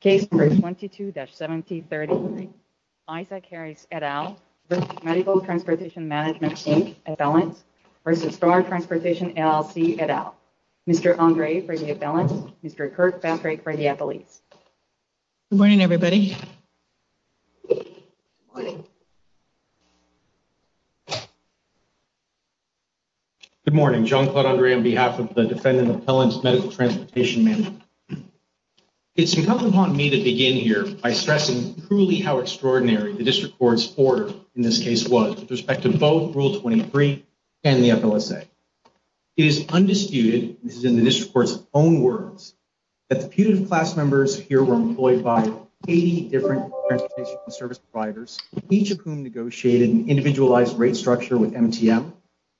Case number 22-1730, Isaac Harris et al. v. Medical Transportation Management, Inc., Appellant, v. Star Transportation LLC, et al. Mr. Andre for the appellant, Mr. Kirkpatrick for the appellate. Good morning, everybody. Good morning. Good morning, John Claude Andre on behalf of the defendant appellant's medical transportation management. It's incumbent upon me to begin here by stressing truly how extraordinary the district court's order in this case was with respect to both Rule 23 and the FLSA. It is undisputed, this is in the district court's own words, that the putative class members here were employed by 80 different transportation service providers, each of whom negotiated an individualized rate structure with MTM.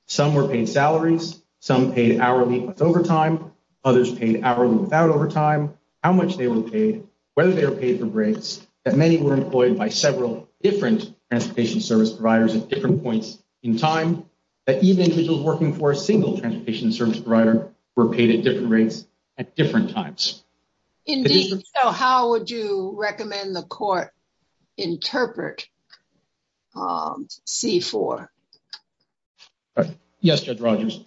Some were paid salaries, some paid hourly with overtime, others paid hourly without overtime, how much they were paid, whether they were paid for breaks, that many were employed by several different transportation service providers at different points in time, that even individuals working for a single transportation service provider were paid at different rates at different times. Indeed, so how would you recommend the court interpret C-4? Yes, Judge Rogers,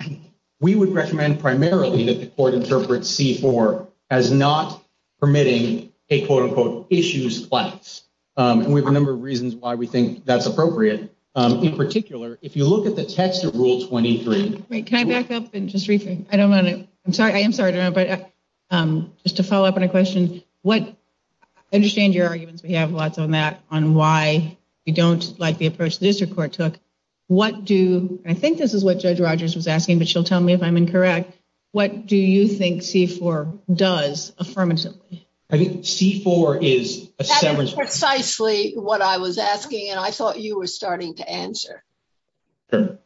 we would recommend primarily that the court interpret C-4 as not permitting a quote-unquote issues class, and we have a number of reasons why we think that's appropriate. In particular, if you look at the text of Rule 23. Can I back up and just briefly, I don't want to, I'm sorry, I am sorry to interrupt, but just to follow up on a question, what, I understand your arguments, we have lots on that, on why you don't like the approach the district court took. What do, I think this is what Judge Rogers was asking, but she'll tell me if I'm incorrect, what do you think C-4 does affirmatively? I think C-4 is a severance provision. That is precisely what I was asking, and I thought you were starting to answer. Sure.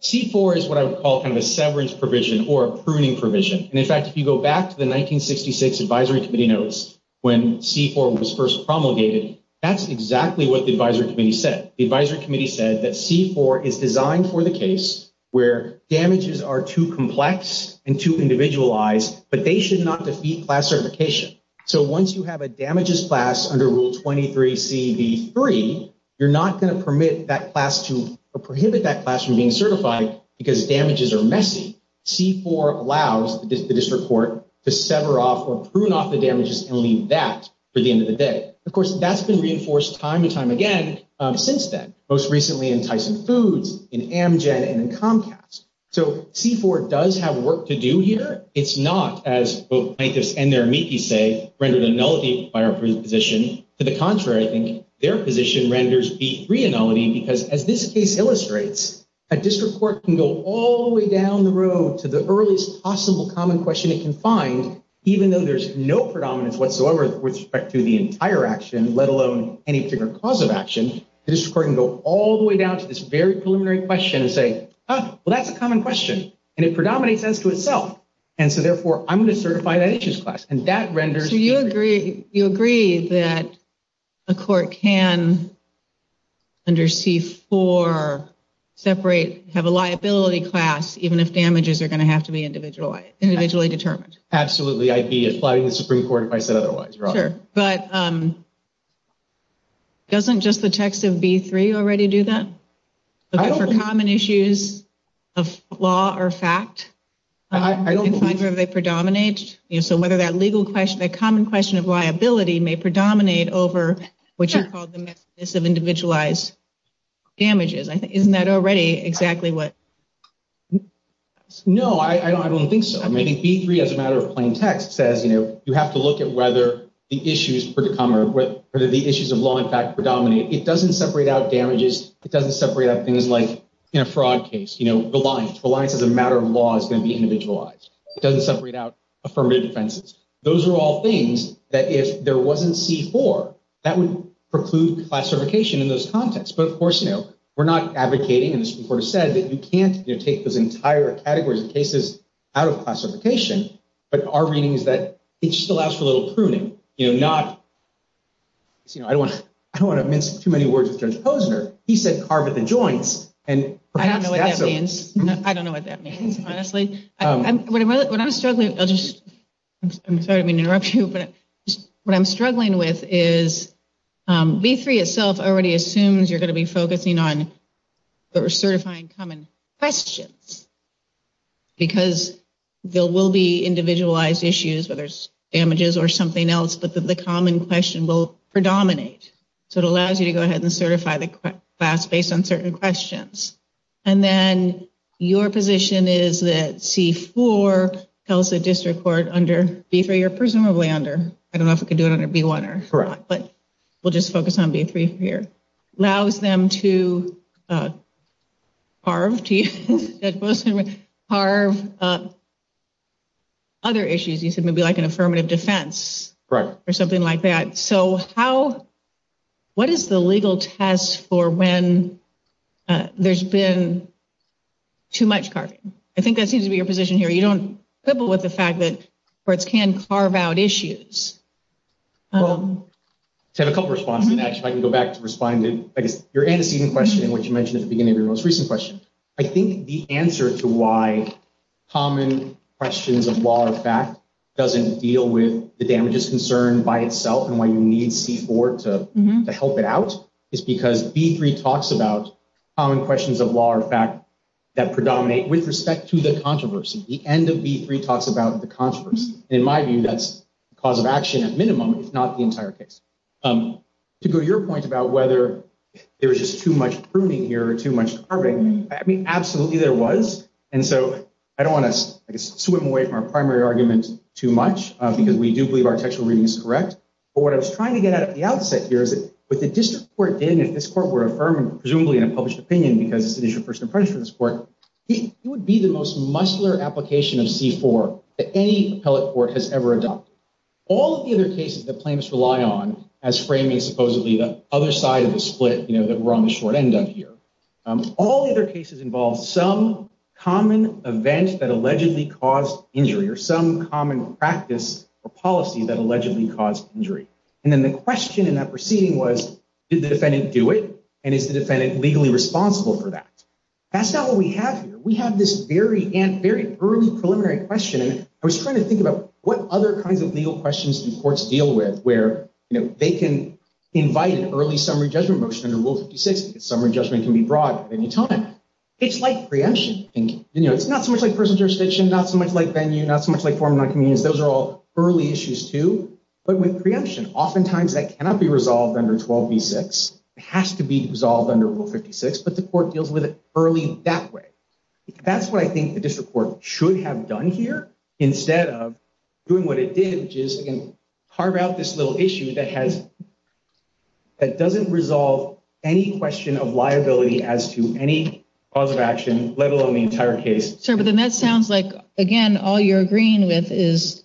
C-4 is what I would call kind of a severance provision or a pruning provision. And in fact, if you go back to the 1966 advisory committee notes, when C-4 was first promulgated, that's exactly what the advisory committee said. The advisory committee said that C-4 is designed for the case where damages are too complex and too individualized, but they should not defeat class certification. So once you have a damages class under Rule 23CB3, you're not going to permit that class to, or prohibit that class from being certified because damages are messy. C-4 allows the district court to sever off or prune off the damages and leave that for the end of the day. Of course, that's been reinforced time and time again since then, most recently in Tyson Foods, in Amgen, and in Comcast. So C-4 does have work to do here. It's not, as both plaintiffs and their amici say, rendered a nullity by our position. To the contrary, I think their position renders B3 a nullity because, as this case illustrates, a district court can go all the way down the road to the earliest possible common question it can find, even though there's no predominance whatsoever with respect to the entire action, let alone any particular cause of action. The district court can go all the way down to this very preliminary question and say, oh, well, that's a common question. And it predominates as to itself. And so, therefore, I'm going to certify that issues class. So you agree that a court can, under C-4, separate, have a liability class, even if damages are going to have to be individually determined? Absolutely. I'd be applying to the Supreme Court if I said otherwise, Your Honor. Sure. But doesn't just the text of B-3 already do that? For common issues of law or fact? I don't believe so. Do you find where they predominate? So whether that legal question, that common question of liability may predominate over what you called the messiness of individualized damages. Isn't that already exactly what? No, I don't think so. I think B-3, as a matter of plain text, says, you know, you have to look at whether the issues of law and fact predominate. It doesn't separate out damages. It doesn't separate out things like in a fraud case, you know, reliance. Reliance as a matter of law is going to be individualized. It doesn't separate out affirmative defenses. Those are all things that if there wasn't C-4, that would preclude classification in those contexts. But of course, you know, we're not advocating, and the Supreme Court has said, that you can't take those entire categories of cases out of classification. But our reading is that it just allows for a little pruning. You know, not, you know, I don't want to mince too many words with Judge Posner. He said carve at the joints. I don't know what that means. I don't know what that means, honestly. When I'm struggling, I'll just, I'm sorry to interrupt you, but what I'm struggling with is B-3 itself already assumes you're going to be focusing on certifying common questions. Because there will be individualized issues, whether it's damages or something else, but the common question will predominate. So it allows you to go ahead and certify the class based on certain questions. And then your position is that C-4 tells the district court under B-3 or presumably under, I don't know if we can do it under B-1 or not, but we'll just focus on B-3 here. Allows them to carve other issues, you said, maybe like an affirmative defense or something like that. So how, what is the legal test for when there's been too much carving? I think that seems to be your position here. You don't quibble with the fact that courts can carve out issues. I have a couple of responses, and actually I can go back to responding to your antecedent question, which you mentioned at the beginning of your most recent question. I think the answer to why common questions of law or fact doesn't deal with the damages concern by itself and why you need C-4 to help it out is because B-3 talks about common questions of law or fact that predominate with respect to the controversy. The end of B-3 talks about the controversy. In my view, that's the cause of action at minimum, if not the entire case. To go to your point about whether there was just too much pruning here or too much carving, I mean, absolutely there was. And so I don't want to swim away from our primary argument too much, because we do believe our textual reading is correct. But what I was trying to get at the outset here is that what the district court did, and if this court were affirmed, presumably in a published opinion because it's an issue of first impression for this court, it would be the most muscular application of C-4 that any appellate court has ever adopted. All of the other cases that plaintiffs rely on as framing supposedly the other side of the split that we're on the short end of here, all the other cases involve some common event that allegedly caused injury or some common practice or policy that allegedly caused injury. And then the question in that proceeding was, did the defendant do it? And is the defendant legally responsible for that? That's not what we have here. We have this very early preliminary question. And I was trying to think about what other kinds of legal questions do courts deal with where they can invite an early summary judgment motion under Rule 56, because summary judgment can be brought at any time. It's like preemption. It's not so much like personal jurisdiction, not so much like venue, not so much like form of non-community. Those are all early issues too. But with preemption, oftentimes that cannot be resolved under 12b-6. It has to be resolved under Rule 56, but the court deals with it early that way. That's what I think the district court should have done here instead of doing what it did, which is carve out this little issue that doesn't resolve any question of liability as to any cause of action, let alone the entire case. Sir, but then that sounds like, again, all you're agreeing with is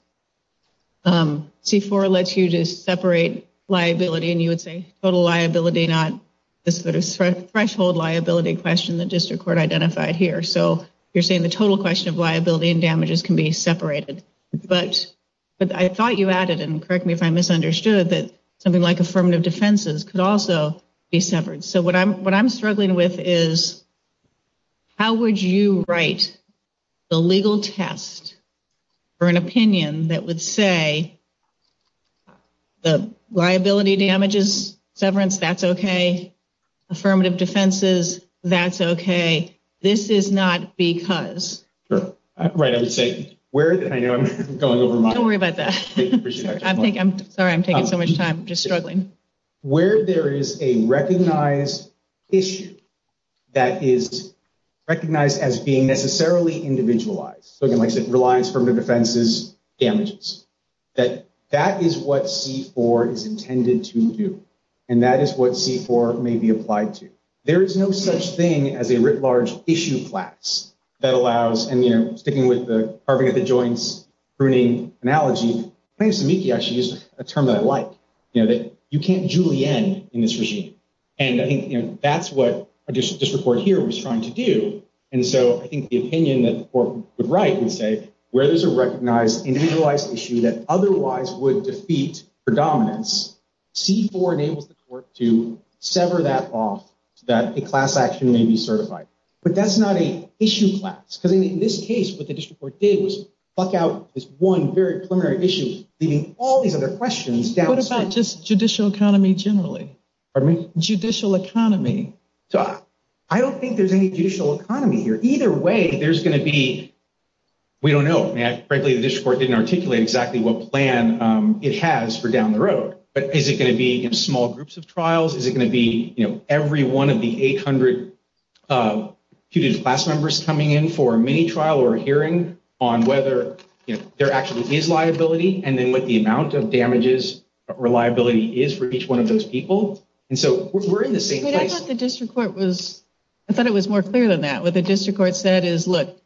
C-4 lets you to separate liability, and you would say total liability, not this sort of threshold liability question that district court identified here. So you're saying the total question of liability and damages can be separated. But I thought you added, and correct me if I misunderstood, that something like affirmative defenses could also be severed. So what I'm struggling with is how would you write the legal test for an opinion that would say the liability damages severance, that's okay. Affirmative defenses, that's okay. This is not because. Right, I would say, I know I'm going over my head. Don't worry about that. I'm sorry, I'm taking so much time, just struggling. Where there is a recognized issue that is recognized as being necessarily individualized, so again, like I said, reliance, affirmative defenses, damages, that that is what C-4 is intended to do, and that is what C-4 may be applied to. There is no such thing as a writ large issue class that allows, and sticking with the carving at the joints, pruning analogy, so plaintiff's amici actually is a term that I like, that you can't julienne in this regime. And I think that's what a district court here was trying to do. And so I think the opinion that the court would write would say where there's a recognized individualized issue that otherwise would defeat predominance, C-4 enables the court to sever that off so that a class action may be certified. But that's not an issue class, because in this case, what the district court did was fuck out this one very preliminary issue, leaving all these other questions down. What about just judicial economy generally? Pardon me? Judicial economy. I don't think there's any judicial economy here. Either way, there's going to be, we don't know. Frankly, the district court didn't articulate exactly what plan it has for down the road. But is it going to be in small groups of trials? Is it going to be every one of the 800 class members coming in for a mini trial or hearing on whether there actually is liability? And then what the amount of damages reliability is for each one of those people. And so we're in the same place. The district court was I thought it was more clear than that. What the district court said is, look,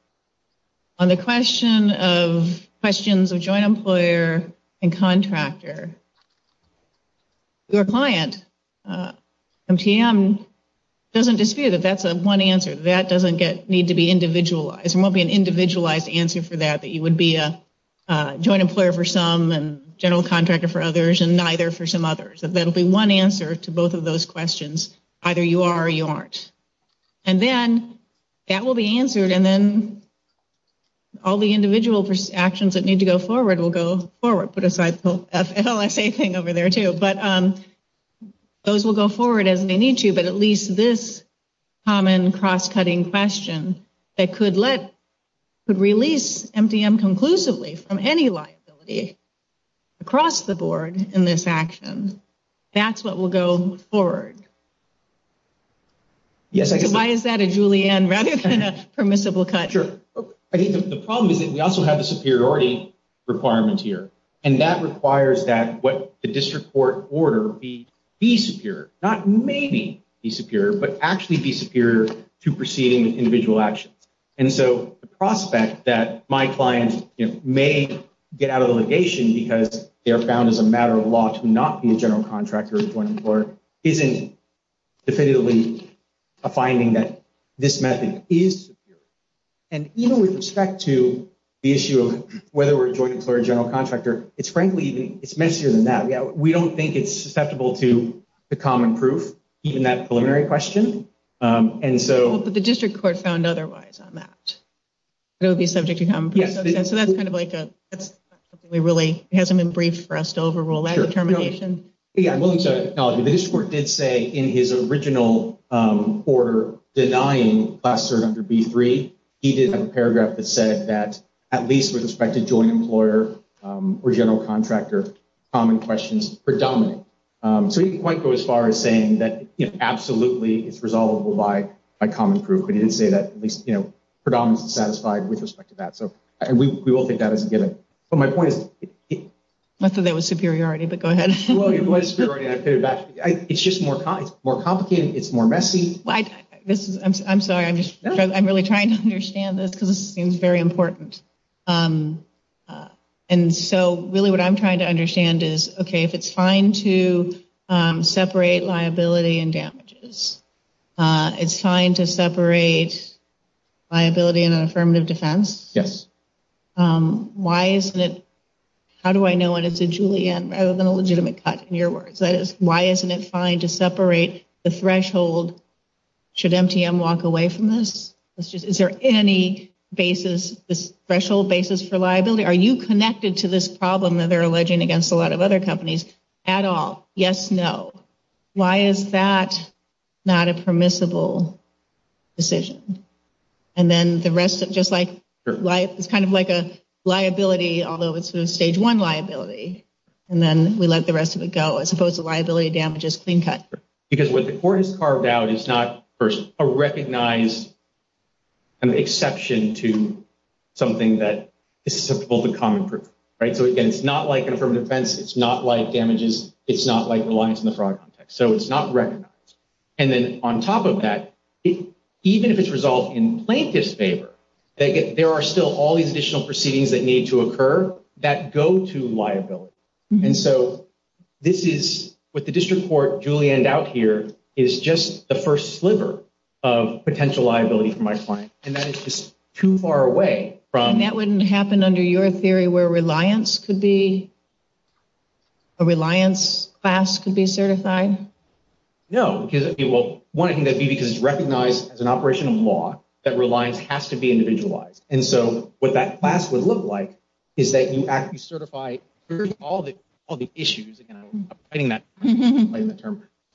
on the question of questions of joint employer and contractor, your client, MTM, doesn't dispute that that's one answer. That doesn't need to be individualized. There won't be an individualized answer for that, that you would be a joint employer for some and general contractor for others and neither for some others. That will be one answer to both of those questions. Either you are or you aren't. And then that will be answered. And then all the individual actions that need to go forward will go forward. Put aside the FLSA thing over there, too. But those will go forward as they need to. But at least this common cross-cutting question that could release MTM conclusively from any liability across the board in this action, that's what will go forward. Why is that a Julianne rather than a permissible cut? Sure. I think the problem is that we also have the superiority requirement here. And that requires that what the district court order be superior, not maybe be superior, but actually be superior to proceeding with individual actions. And so the prospect that my client may get out of litigation because they are found as a matter of law to not be a general contractor or a joint employer isn't definitively a finding that this method is superior. And even with respect to the issue of whether we're a joint employer or general contractor, it's, frankly, it's messier than that. We don't think it's susceptible to the common proof, even that preliminary question. But the district court found otherwise on that. It would be subject to common proof. So that's kind of like we really hasn't been briefed for us to overrule that determination. Yeah, I'm willing to acknowledge that the district court did say in his original order denying class cert under B-3, he did have a paragraph that said that at least with respect to joint employer or general contractor, common questions predominate. So he didn't quite go as far as saying that absolutely it's resolvable by a common proof. But he didn't say that at least, you know, predominance is satisfied with respect to that. So we will take that as a given. But my point is. I thought that was superiority, but go ahead. Well, it was. It's just more it's more complicated. It's more messy. This is I'm sorry. I'm just I'm really trying to understand this because it seems very important. And so really what I'm trying to understand is, OK, if it's fine to separate liability and damages, it's fine to separate liability and an affirmative defense. Yes. Why isn't it? How do I know what it's a Julianne rather than a legitimate cut? In your words, that is. Why isn't it fine to separate the threshold? Should MTM walk away from this? Is there any basis, this threshold basis for liability? Are you connected to this problem that they're alleging against a lot of other companies at all? Yes. No. Why is that not a permissible decision? And then the rest of just like life, it's kind of like a liability, although it's a stage one liability. And then we let the rest of it go as opposed to liability damages being cut. Because what the court has carved out is not a recognized. An exception to something that is acceptable to common proof. Right. So again, it's not like an affirmative defense. It's not like damages. It's not like reliance on the fraud. So it's not recognized. And then on top of that, even if it's resolved in plaintiff's favor, there are still all these additional proceedings that need to occur that go to liability. And so this is what the district court julienned out here is just the first sliver of potential liability for my client. And that is just too far away from. And that wouldn't happen under your theory where reliance could be. A reliance class could be certified. No, because it will want to be because it's recognized as an operation of law that reliance has to be individualized. And so what that class would look like is that you act, you certify all the all the issues. And I'm getting that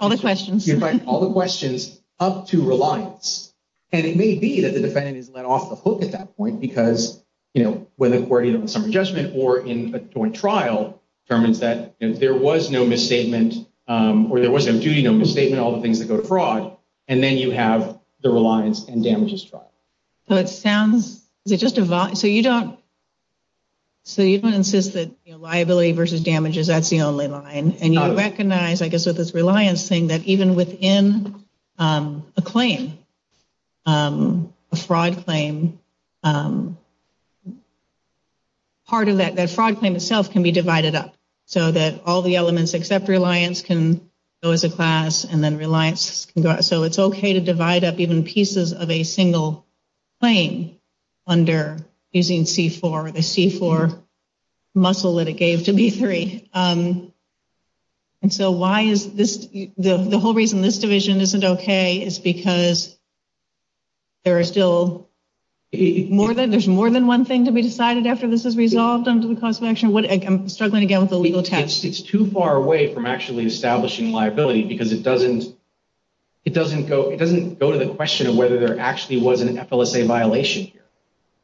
all the questions, all the questions up to reliance. And it may be that the defendant is let off the hook at that point because, you know, whether we're in a summary judgment or in a joint trial determines that there was no misstatement or there was no duty, no misstatement, all the things that go to fraud. And then you have the reliance and damages trial. So it sounds they just divide. So you don't. So you don't insist that liability versus damages, that's the only line. And you recognize, I guess, with this reliance thing that even within a claim, a fraud claim. Part of that fraud claim itself can be divided up so that all the elements except reliance can go as a class and then reliance. So it's OK to divide up even pieces of a single claim under using C4, the C4 muscle that it gave to B3. And so why is this the whole reason this division isn't OK is because. There are still more than there's more than one thing to be decided after this is resolved under the course of action. I'm struggling again with the legal test. It's too far away from actually establishing liability because it doesn't. It doesn't go it doesn't go to the question of whether there actually was an FLSA violation.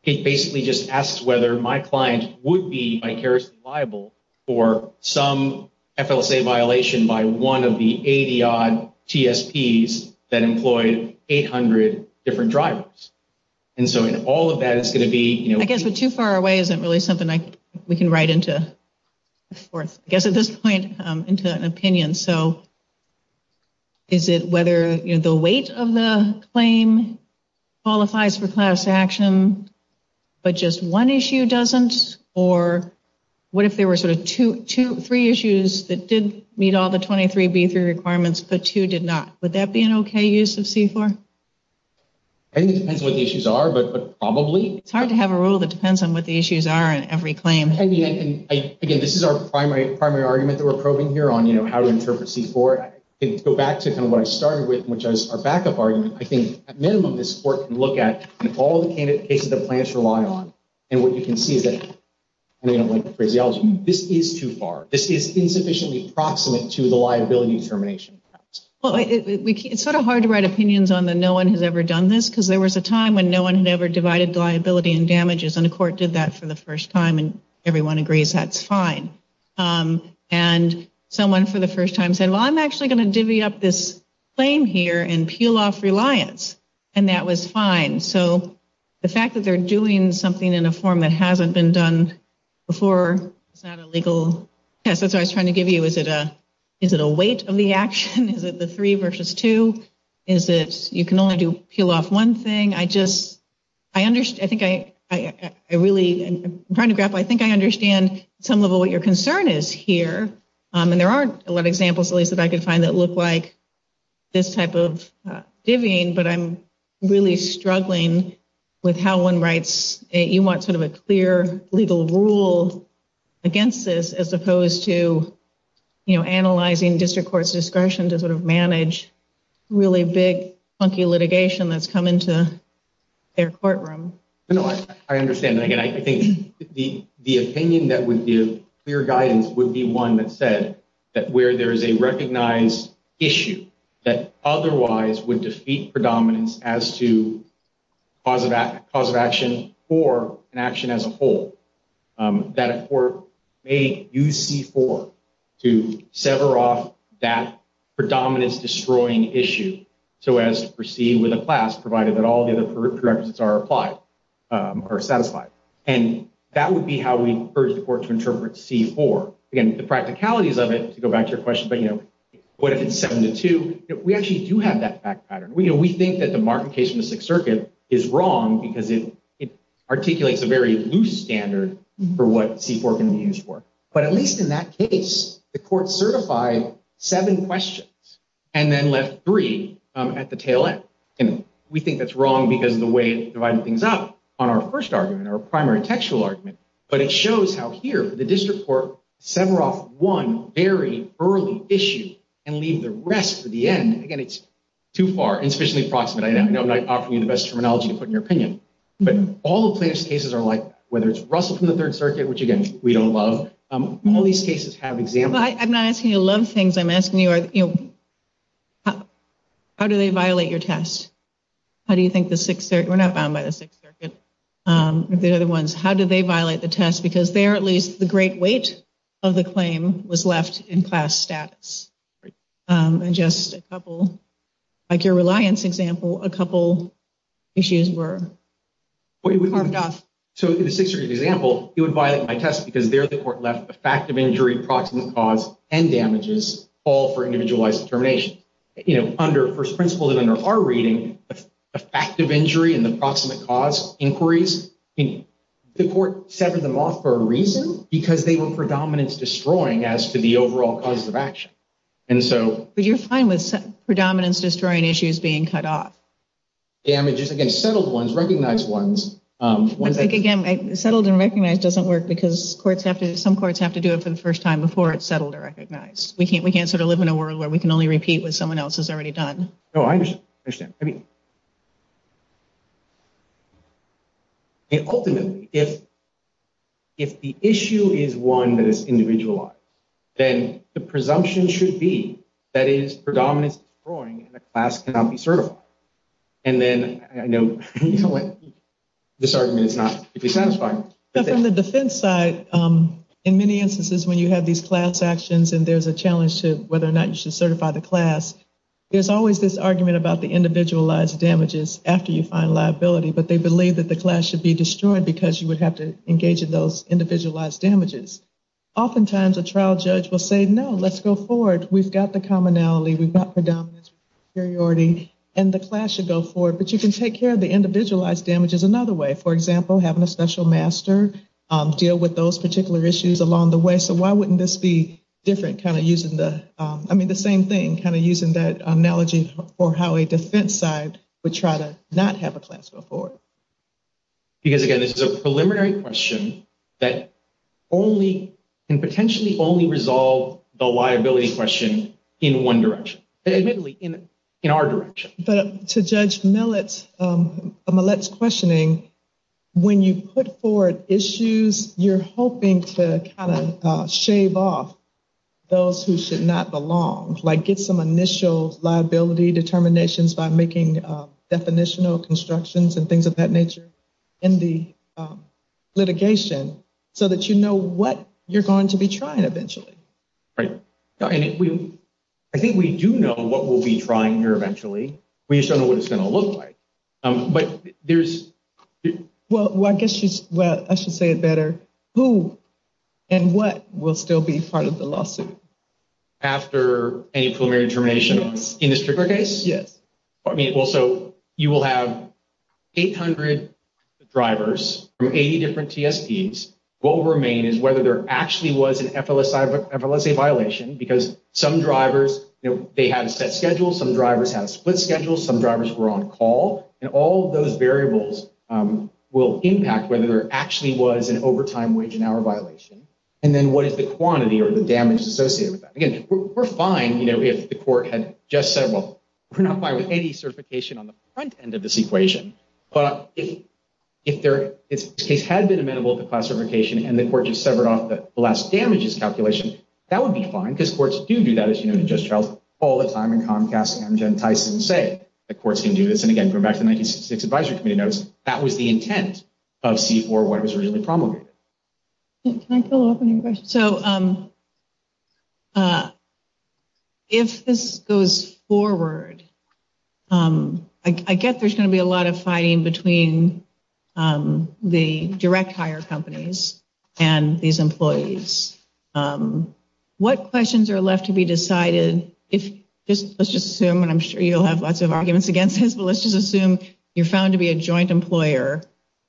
It basically just asks whether my client would be vicariously liable for some FLSA violation by one of the 80 odd TSPs that employed 800 different drivers. And so in all of that, it's going to be, you know, I guess, but too far away isn't really something we can write into. Of course, I guess at this point into an opinion, so. Is it whether the weight of the claim qualifies for class action, but just one issue doesn't? Or what if there were sort of two to three issues that did meet all the 23 B3 requirements, but two did not? Would that be an OK use of C4? I think it depends on what the issues are, but probably it's hard to have a rule that depends on what the issues are in every claim. And again, this is our primary primary argument that we're probing here on, you know, how to interpret C4. Go back to what I started with, which is our backup argument. I think at minimum, this court can look at all the cases the plaintiffs rely on. And what you can see is that this is too far. This is insufficiently proximate to the liability termination. Well, it's sort of hard to write opinions on the no one has ever done this because there was a time when no one had ever divided liability and damages. And the court did that for the first time. And everyone agrees that's fine. And someone for the first time said, well, I'm actually going to divvy up this claim here and peel off reliance. And that was fine. So the fact that they're doing something in a form that hasn't been done before. It's not a legal test. That's what I was trying to give you. Is it a is it a weight of the action? Is it the three versus two? Is it you can only do peel off one thing? I just I understand. I think I really am trying to grapple. I think I understand some of what your concern is here. And there aren't a lot of examples that I could find that look like this type of divvying. But I'm really struggling with how one writes it. You want sort of a clear legal rule against this as opposed to, you know, analyzing district courts discretion to sort of manage really big, funky litigation that's come into their courtroom. You know, I understand. And again, I think the the opinion that would give clear guidance would be one that said that where there is a recognized issue that otherwise would defeat predominance as to positive cause of action or an action as a whole. That a court may use C4 to sever off that predominance destroying issue so as to proceed with a class provided that all the other prerequisites are applied or satisfied. And that would be how we urge the court to interpret C4. Again, the practicalities of it, to go back to your question, but, you know, what if it's seven to two? We actually do have that fact pattern. We think that the Martin case from the Sixth Circuit is wrong because it articulates a very loose standard for what C4 can be used for. But at least in that case, the court certified seven questions and then left three at the tail end. And we think that's wrong because the way it divided things up on our first argument, our primary textual argument, but it shows how here the district court sever off one very early issue and leave the rest for the end. Again, it's too far insufficiently approximate. I know I'm not offering you the best terminology to put in your opinion, but all the plaintiff's cases are like whether it's Russell from the Third Circuit, which, again, we don't love. All these cases have examples. I'm not asking you to love things. I'm asking you, how do they violate your test? How do you think the Sixth Circuit, we're not bound by the Sixth Circuit, the other ones, how do they violate the test? Because there, at least, the great weight of the claim was left in class status. And just a couple, like your reliance example, a couple issues were carved off. So in the Sixth Circuit example, it would violate my test because there the court left a fact of injury, proximate cause, and damages, all for individualized determination. Under first principle and under our reading, a fact of injury and the proximate cause inquiries, the court severed them off for a reason because they were predominance destroying as to the overall causes of action. But you're fine with predominance destroying issues being cut off? Damages against settled ones, recognized ones. Again, settled and recognized doesn't work because courts have to, some courts have to do it for the first time before it's settled or recognized. We can't sort of live in a world where we can only repeat what someone else has already done. No, I understand. Ultimately, if the issue is one that is individualized, then the presumption should be that it is predominance destroying and the class cannot be certified. From the defense side, in many instances when you have these class actions and there's a challenge to whether or not you should certify the class, there's always this argument about the individualized damages after you find liability. But they believe that the class should be destroyed because you would have to engage in those individualized damages. Oftentimes, a trial judge will say, no, let's go forward. We've got the commonality. We've got predominance and superiority. And the class should go forward. But you can take care of the individualized damages another way. For example, having a special master deal with those particular issues along the way. So why wouldn't this be different kind of using the, I mean the same thing, kind of using that analogy for how a defense side would try to not have a class go forward? Because again, this is a preliminary question that only and potentially only resolve the liability question in one direction. Admittedly, in our direction. But to Judge Millett's questioning, when you put forward issues, you're hoping to kind of shave off those who should not belong. Like get some initial liability determinations by making definitional constructions and things of that nature in the litigation so that you know what you're going to be trying eventually. Right. I think we do know what we'll be trying here eventually. We just don't know what it's going to look like. But there's... Well, I guess I should say it better. Who and what will still be part of the lawsuit? After any preliminary determination in this particular case? Yes. So you will have 800 drivers from 80 different TSPs. What will remain is whether there actually was an FLSA violation. Because some drivers, they had a set schedule. Some drivers had a split schedule. Some drivers were on call. And all those variables will impact whether there actually was an overtime wage and hour violation. And then what is the quantity or the damage associated with that? Again, we're fine if the court had just said, well, we're not fine with any certification on the front end of this equation. But if this case had been amenable to classification and the court just severed off the last damages calculation, that would be fine. Because courts do do that, as you know, in just trials all the time in Comcast, Amgen, Tyson, say that courts can do this. And again, going back to the 1966 advisory committee notes, that was the intent of C-4 when it was originally promulgated. Can I follow up on your question? So if this goes forward, I get there's going to be a lot of fighting between the direct hire companies and these employees. What questions are left to be decided? Let's just assume, and I'm sure you'll have lots of arguments against this, but let's just assume you're found to be a joint employer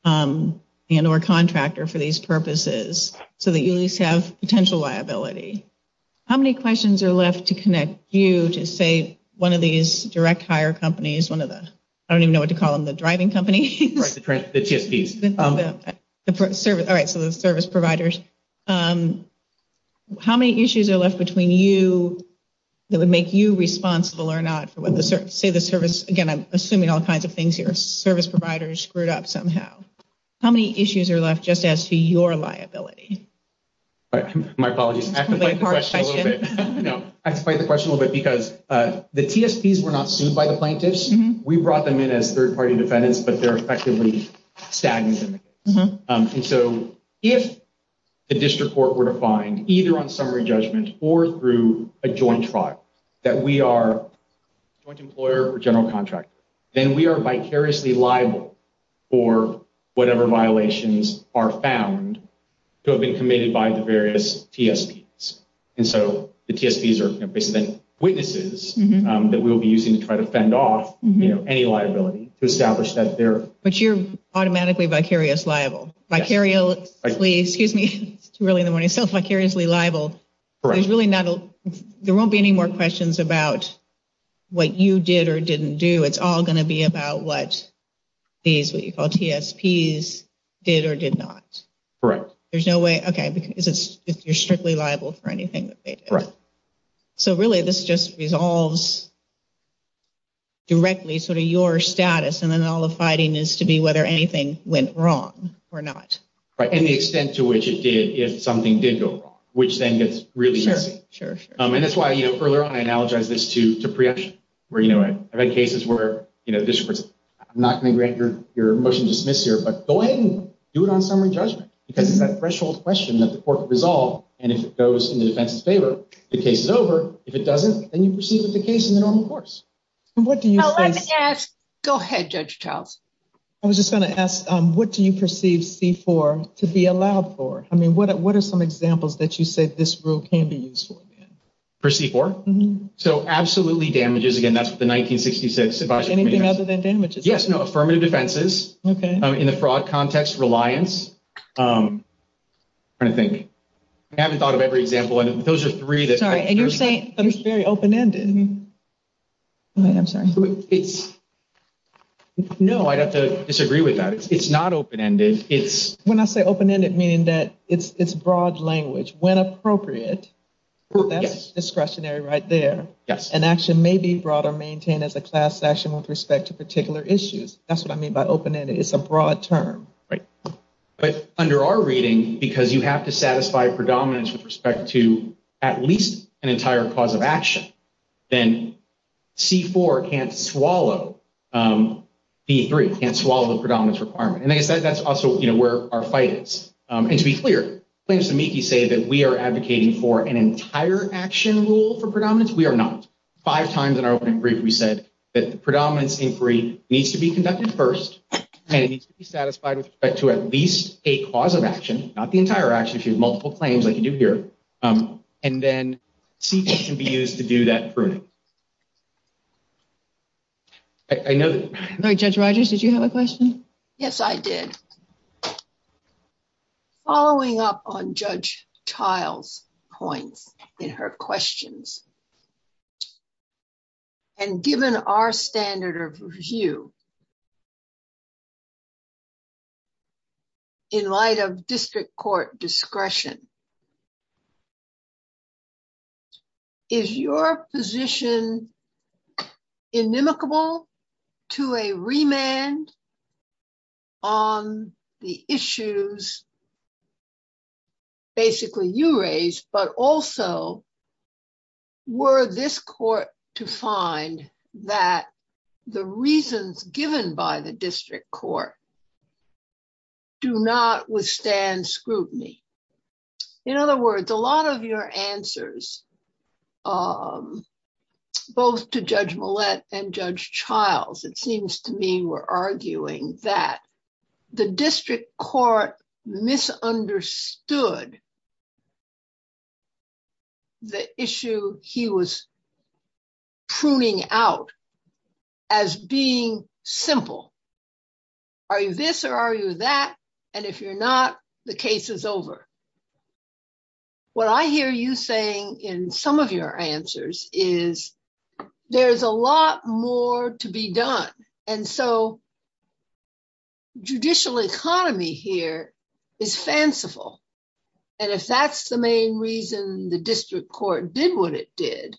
and or contractor for these purposes so that you at least have potential liability. How many questions are left to connect you to, say, one of these direct hire companies, one of the, I don't even know what to call them, the driving companies? The GSPs. All right, so the service providers. How many issues are left between you that would make you responsible or not? Say the service, again, I'm assuming all kinds of things here, service providers screwed up somehow. How many issues are left just as to your liability? My apologies, I have to fight the question a little bit because the TSPs were not sued by the plaintiffs. We brought them in as third party defendants, but they're effectively stagnant. And so if the district court were to find either on summary judgment or through a joint trial that we are a joint employer or general contractor, then we are vicariously liable for whatever violations are found to have been committed by the various TSPs. And so the TSPs are basically witnesses that we will be using to try to fend off any liability to establish that they're. But you're automatically vicarious liable, vicariously, excuse me. It's too early in the morning. So vicariously liable. There's really not, there won't be any more questions about what you did or didn't do. It's all going to be about what these, what you call TSPs, did or did not. Correct. There's no way. OK, because you're strictly liable for anything. Correct. So really this just resolves directly sort of your status. And then all the fighting is to be whether anything went wrong or not. Right. And the extent to which it did, if something did go wrong, which then gets really messy. And that's why, you know, further on, I analogize this to preemption, where, you know, I've had cases where, you know, I'm not going to grant your motion to dismiss here, but go ahead and do it on summary judgment. Because it's that threshold question that the court can resolve. And if it goes in the defense's favor, the case is over. If it doesn't, then you proceed with the case in the normal course. What do you think? Go ahead, Judge Childs. I was just going to ask, what do you perceive C-4 to be allowed for? I mean, what are some examples that you say this rule can be used for? For C-4? Mm-hmm. So absolutely damages. Again, that's the 1966. Anything other than damages? Yes, no. Affirmative defenses. OK. In the fraud context, reliance. I'm trying to think. I haven't thought of every example. And if those are three, there's one. Sorry, and you're saying it's very open-ended. I'm sorry. No, I'd have to disagree with that. It's not open-ended. When I say open-ended, meaning that it's broad language. When appropriate, that's discretionary right there. Yes. An action may be brought or maintained as a class action with respect to particular issues. That's what I mean by open-ended. It's a broad term. Right. But under our reading, because you have to satisfy predominance with respect to at least an entire cause of action, then C-4 can't swallow B-3, can't swallow the predominance requirement. And, like I said, that's also where our fight is. And to be clear, claims to MICI say that we are advocating for an entire action rule for predominance. We are not. Five times in our open brief, we said that the predominance inquiry needs to be conducted first, and it needs to be satisfied with respect to at least a cause of action, not the entire action. If you have multiple claims, like you do here, and then C-4 can be used to do that pruning. I know that. Judge Rogers, did you have a question? Yes, I did. Following up on Judge Child's points in her questions, and given our standard of view in light of district court discretion, is your position inimicable to a remand on the issues basically you raised, but also were this court to find that the reasons given by the district court do not withstand scrutiny? In other words, a lot of your answers, both to Judge Millett and Judge Childs, it seems to me, were arguing that the district court misunderstood the issue he was pruning out as being simple. Are you this or are you that? And if you're not, the case is over. What I hear you saying in some of your answers is there's a lot more to be done. And so judicial economy here is fanciful. And if that's the main reason the district court did what it did,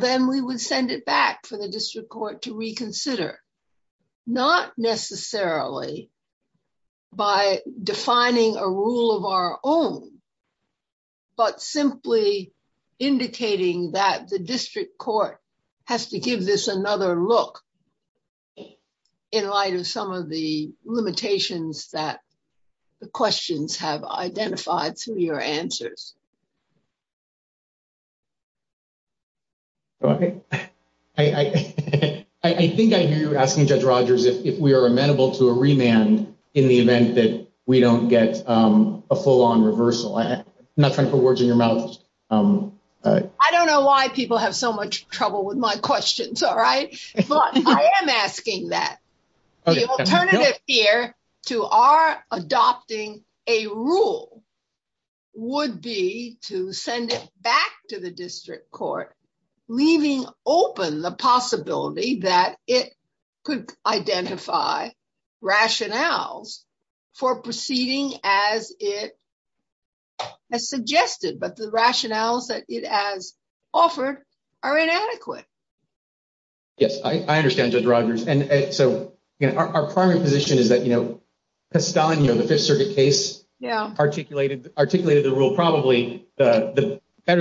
then we would send it back for the district court to reconsider. Not necessarily by defining a rule of our own, but simply indicating that the district court has to give this another look in light of some of the limitations that the questions have identified through your answers. I think I hear you asking Judge Rogers if we are amenable to a remand in the event that we don't get a full on reversal. I'm not trying to put words in your mouth. I don't know why people have so much trouble with my questions. All right. But I am asking that. The alternative here to our adopting a rule would be to send it back to the district court, leaving open the possibility that it could identify rationales for proceeding as it has suggested, but the rationales that it has offered are inadequate. Yes, I understand, Judge Rogers. And so our primary position is that, you know, Castano, the Fifth Circuit case articulated articulated the rule probably better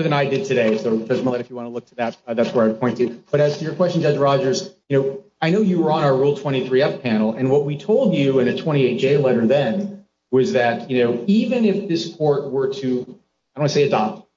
than I did today. So if you want to look to that, that's where I point to. But as to your question, Judge Rogers, you know, I know you were on our Rule 23 F panel and what we told you in a 28 J letter then was that, you know, if this court were to, I don't want to say adopt,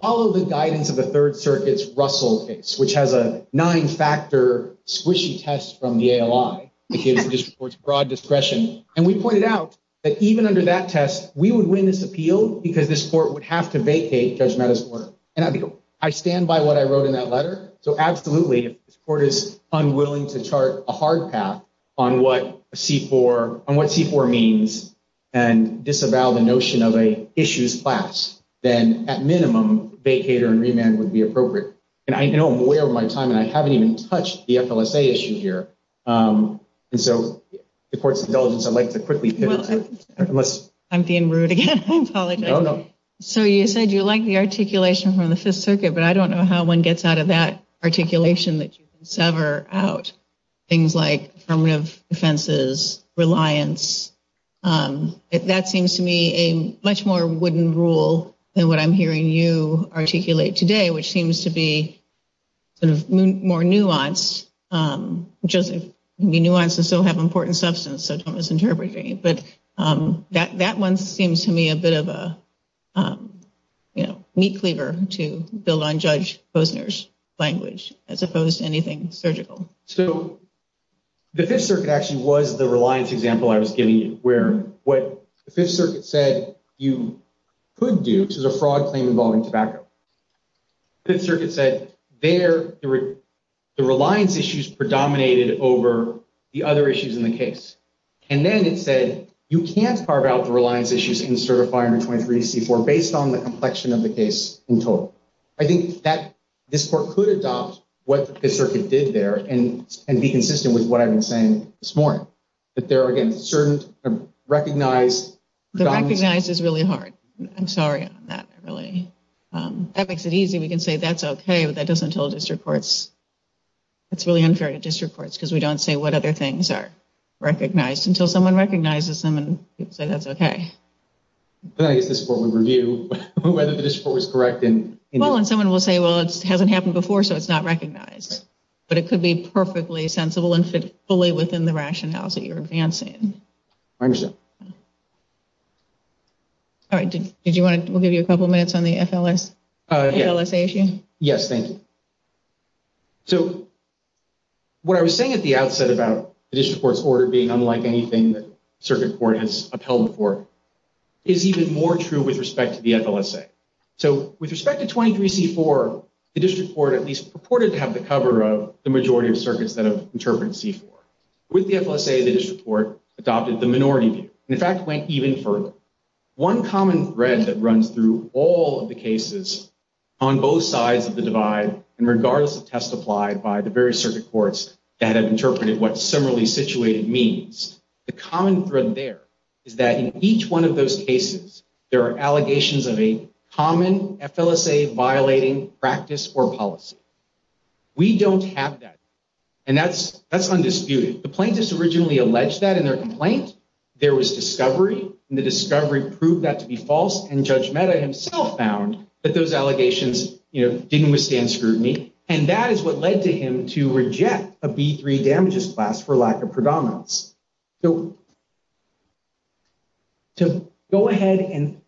follow the guidance of the Third Circuit's Russell case, which has a nine factor squishy test from the ALI, the District Court's broad discretion. And we pointed out that even under that test, we would win this appeal because this court would have to vacate Judge Meadows' order. And I stand by what I wrote in that letter. So absolutely, if this court is unwilling to chart a hard path on what C-4 means and disavow the notion of a issues class, then at minimum, vacater and remand would be appropriate. And I know I'm way over my time, and I haven't even touched the FLSA issue here. And so the court's indulgence, I'd like to quickly pivot to it. I'm being rude again. I apologize. So you said you like the articulation from the Fifth Circuit, but I don't know how one gets out of that articulation that you sever out things like affirmative offenses, reliance. That seems to me a much more wooden rule than what I'm hearing you articulate today, which seems to be sort of more nuanced, just be nuanced and still have important substance. But that one seems to me a bit of a meat cleaver to build on Judge Posner's language, as opposed to anything surgical. So the Fifth Circuit actually was the reliance example I was giving you, where what the Fifth Circuit said you could do, which is a fraud claim involving tobacco. The Fifth Circuit said there the reliance issues predominated over the other issues in the case. And then it said you can't carve out the reliance issues in Certifier 23-C-4 based on the complexion of the case in total. I think that this court could adopt what the Fifth Circuit did there and be consistent with what I've been saying this morning. The recognized is really hard. I'm sorry about that. That makes it easy. We can say that's okay, but that doesn't tell district courts. It's really unfair to district courts because we don't say what other things are recognized until someone recognizes them and people say that's okay. Well, and someone will say, well, it hasn't happened before, so it's not recognized. But it could be perfectly sensible and fit fully within the rationales that you're advancing. I understand. All right. We'll give you a couple of minutes on the FLSA issue. Yes, thank you. So what I was saying at the outset about the district court's order being unlike anything the circuit court has upheld before is even more true with respect to the FLSA. So with respect to 23-C-4, the district court at least purported to have the cover of the majority of circuits that have interpreted C-4. With the FLSA, the district court adopted the minority view and, in fact, went even further. One common thread that runs through all of the cases on both sides of the divide and regardless of test applied by the various circuit courts that have interpreted what similarly situated means, the common thread there is that in each one of those cases there are allegations of a common FLSA-violating practice or policy. We don't have that. And that's undisputed. The plaintiffs originally alleged that in their complaint. There was discovery, and the discovery proved that to be false, and Judge Mehta himself found that those allegations didn't withstand scrutiny. And that is what led to him to reject a B-3 damages class for lack of predominance. So to go ahead and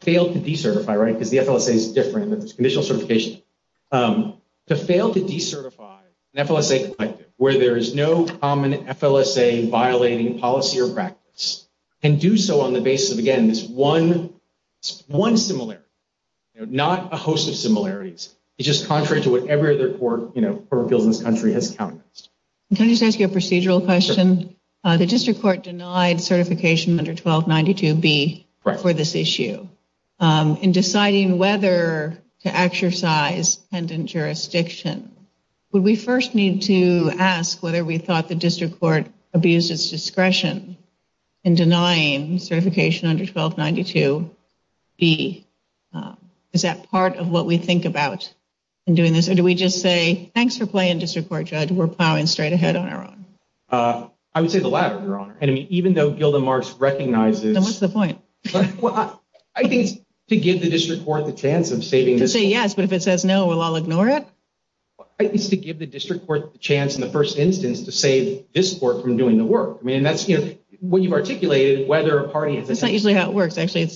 fail to decertify, right, because the FLSA is different and there's conditional certification, to fail to decertify an FLSA collective where there is no common FLSA-violating policy or practice can do so on the basis of, again, this one similarity, not a host of similarities. It's just contrary to whatever other court of appeals in this country has counted against. Can I just ask you a procedural question? Sure. The district court denied certification under 1292B for this issue. Right. In deciding whether to exercise pendant jurisdiction, would we first need to ask whether we thought the district court abused its discretion in denying certification under 1292B? Is that part of what we think about in doing this? Or do we just say, thanks for playing district court, Judge. We're plowing straight ahead on our own. I would say the latter, Your Honor. And even though Gilda Marx recognizes… Then what's the point? I think it's to give the district court the chance of saving this court. To say yes, but if it says no, we'll all ignore it? I think it's to give the district court the chance in the first instance to save this court from doing the work. I mean, that's, you know, what you've articulated, whether a party has… That's not usually how it works, actually.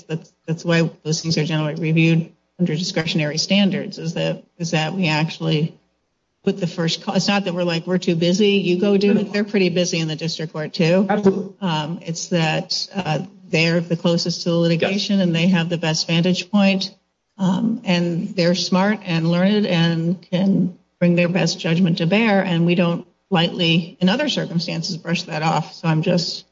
That's why those things are generally reviewed under discretionary standards, is that we actually put the first… It's not that we're like, we're too busy, you go do it. They're pretty busy in the district court, too. Absolutely. It's that they're the closest to the litigation and they have the best vantage point. And they're smart and learned and can bring their best judgment to bear. And we don't lightly, in other circumstances, brush that off. So I'm just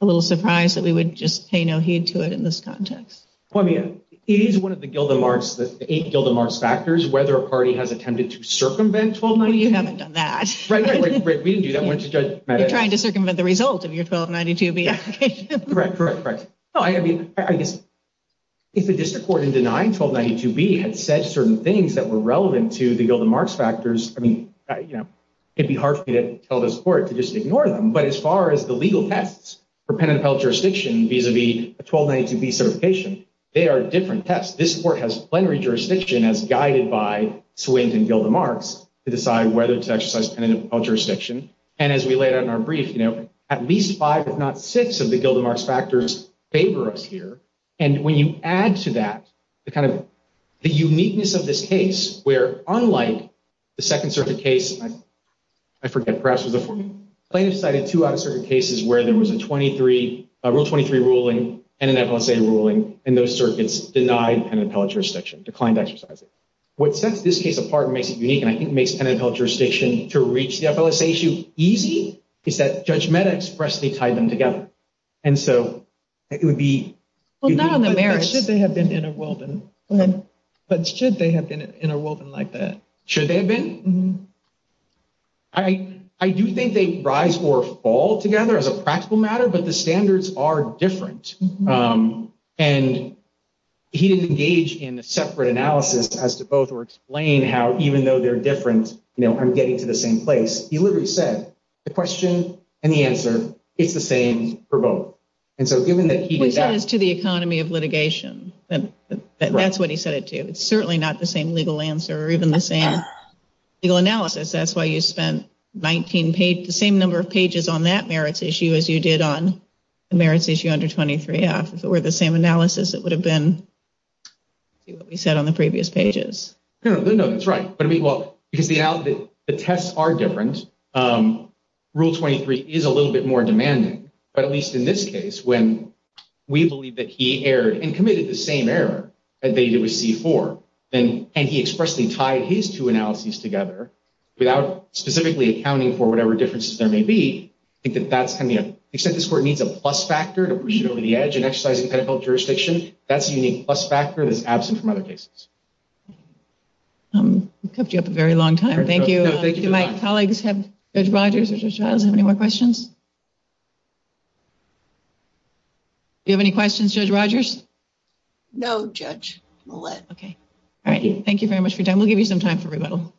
a little surprised that we would just pay no heed to it in this context. Well, I mean, it is one of the Gilda Marx, the eight Gilda Marx factors, whether a party has attempted to circumvent 1292B. No, you haven't done that. Right, right, right. We didn't do that. You're trying to circumvent the result of your 1292B application. Correct, correct, correct. No, I mean, I guess if the district court in denying 1292B had said certain things that were relevant to the Gilda Marx factors, I mean, you know, it'd be hard for me to tell this court to just ignore them. But as far as the legal tests for pen and appellate jurisdiction vis-a-vis a 1292B certification, they are different tests. This court has plenary jurisdiction as guided by Swinton Gilda Marx to decide whether to exercise pen and appellate jurisdiction. And as we laid out in our brief, you know, at least five, if not six of the Gilda Marx factors favor us here. And when you add to that the kind of the uniqueness of this case, where unlike the Second Circuit case, I forget, perhaps it was the plaintiff's side of two out-of-circuit cases where there was a Rule 23 ruling and an FLSA ruling, and those circuits denied pen and appellate jurisdiction, declined to exercise it. What sets this case apart and makes it unique, and I think makes pen and appellate jurisdiction to reach the FLSA issue easy, is that Judge Mehta expressly tied them together. And so it would be... Well, not on the merits. But should they have been interwoven? Go ahead. But should they have been interwoven like that? Should they have been? I do think they rise or fall together as a practical matter, but the standards are different. And he didn't engage in a separate analysis as to both or explain how even though they're different, you know, I'm getting to the same place. He literally said the question and the answer, it's the same for both. And so given that he did that... Which adds to the economy of litigation. That's what he said it to. It's certainly not the same legal answer or even the same legal analysis. That's why you spent the same number of pages on that merits issue as you did on the merits issue under 23-F. If it were the same analysis, it would have been what we said on the previous pages. No, that's right. But, I mean, well, because the tests are different. Rule 23 is a little bit more demanding. But at least in this case, when we believe that he erred and committed the same error that he did with C-4, and he expressly tied his two analyses together without specifically accounting for whatever differences there may be. I think that that's kind of, you know, the extent to which this court needs a plus factor to push it over the edge in exercising pedical jurisdiction. That's a unique plus factor that's absent from other cases. We've kept you up a very long time. Thank you. Do my colleagues have, Judge Rogers or Judge Riles, have any more questions? Do you have any questions, Judge Rogers? No, Judge Millett. Okay. All right. Thank you very much for your time. We'll give you some time for rebuttal.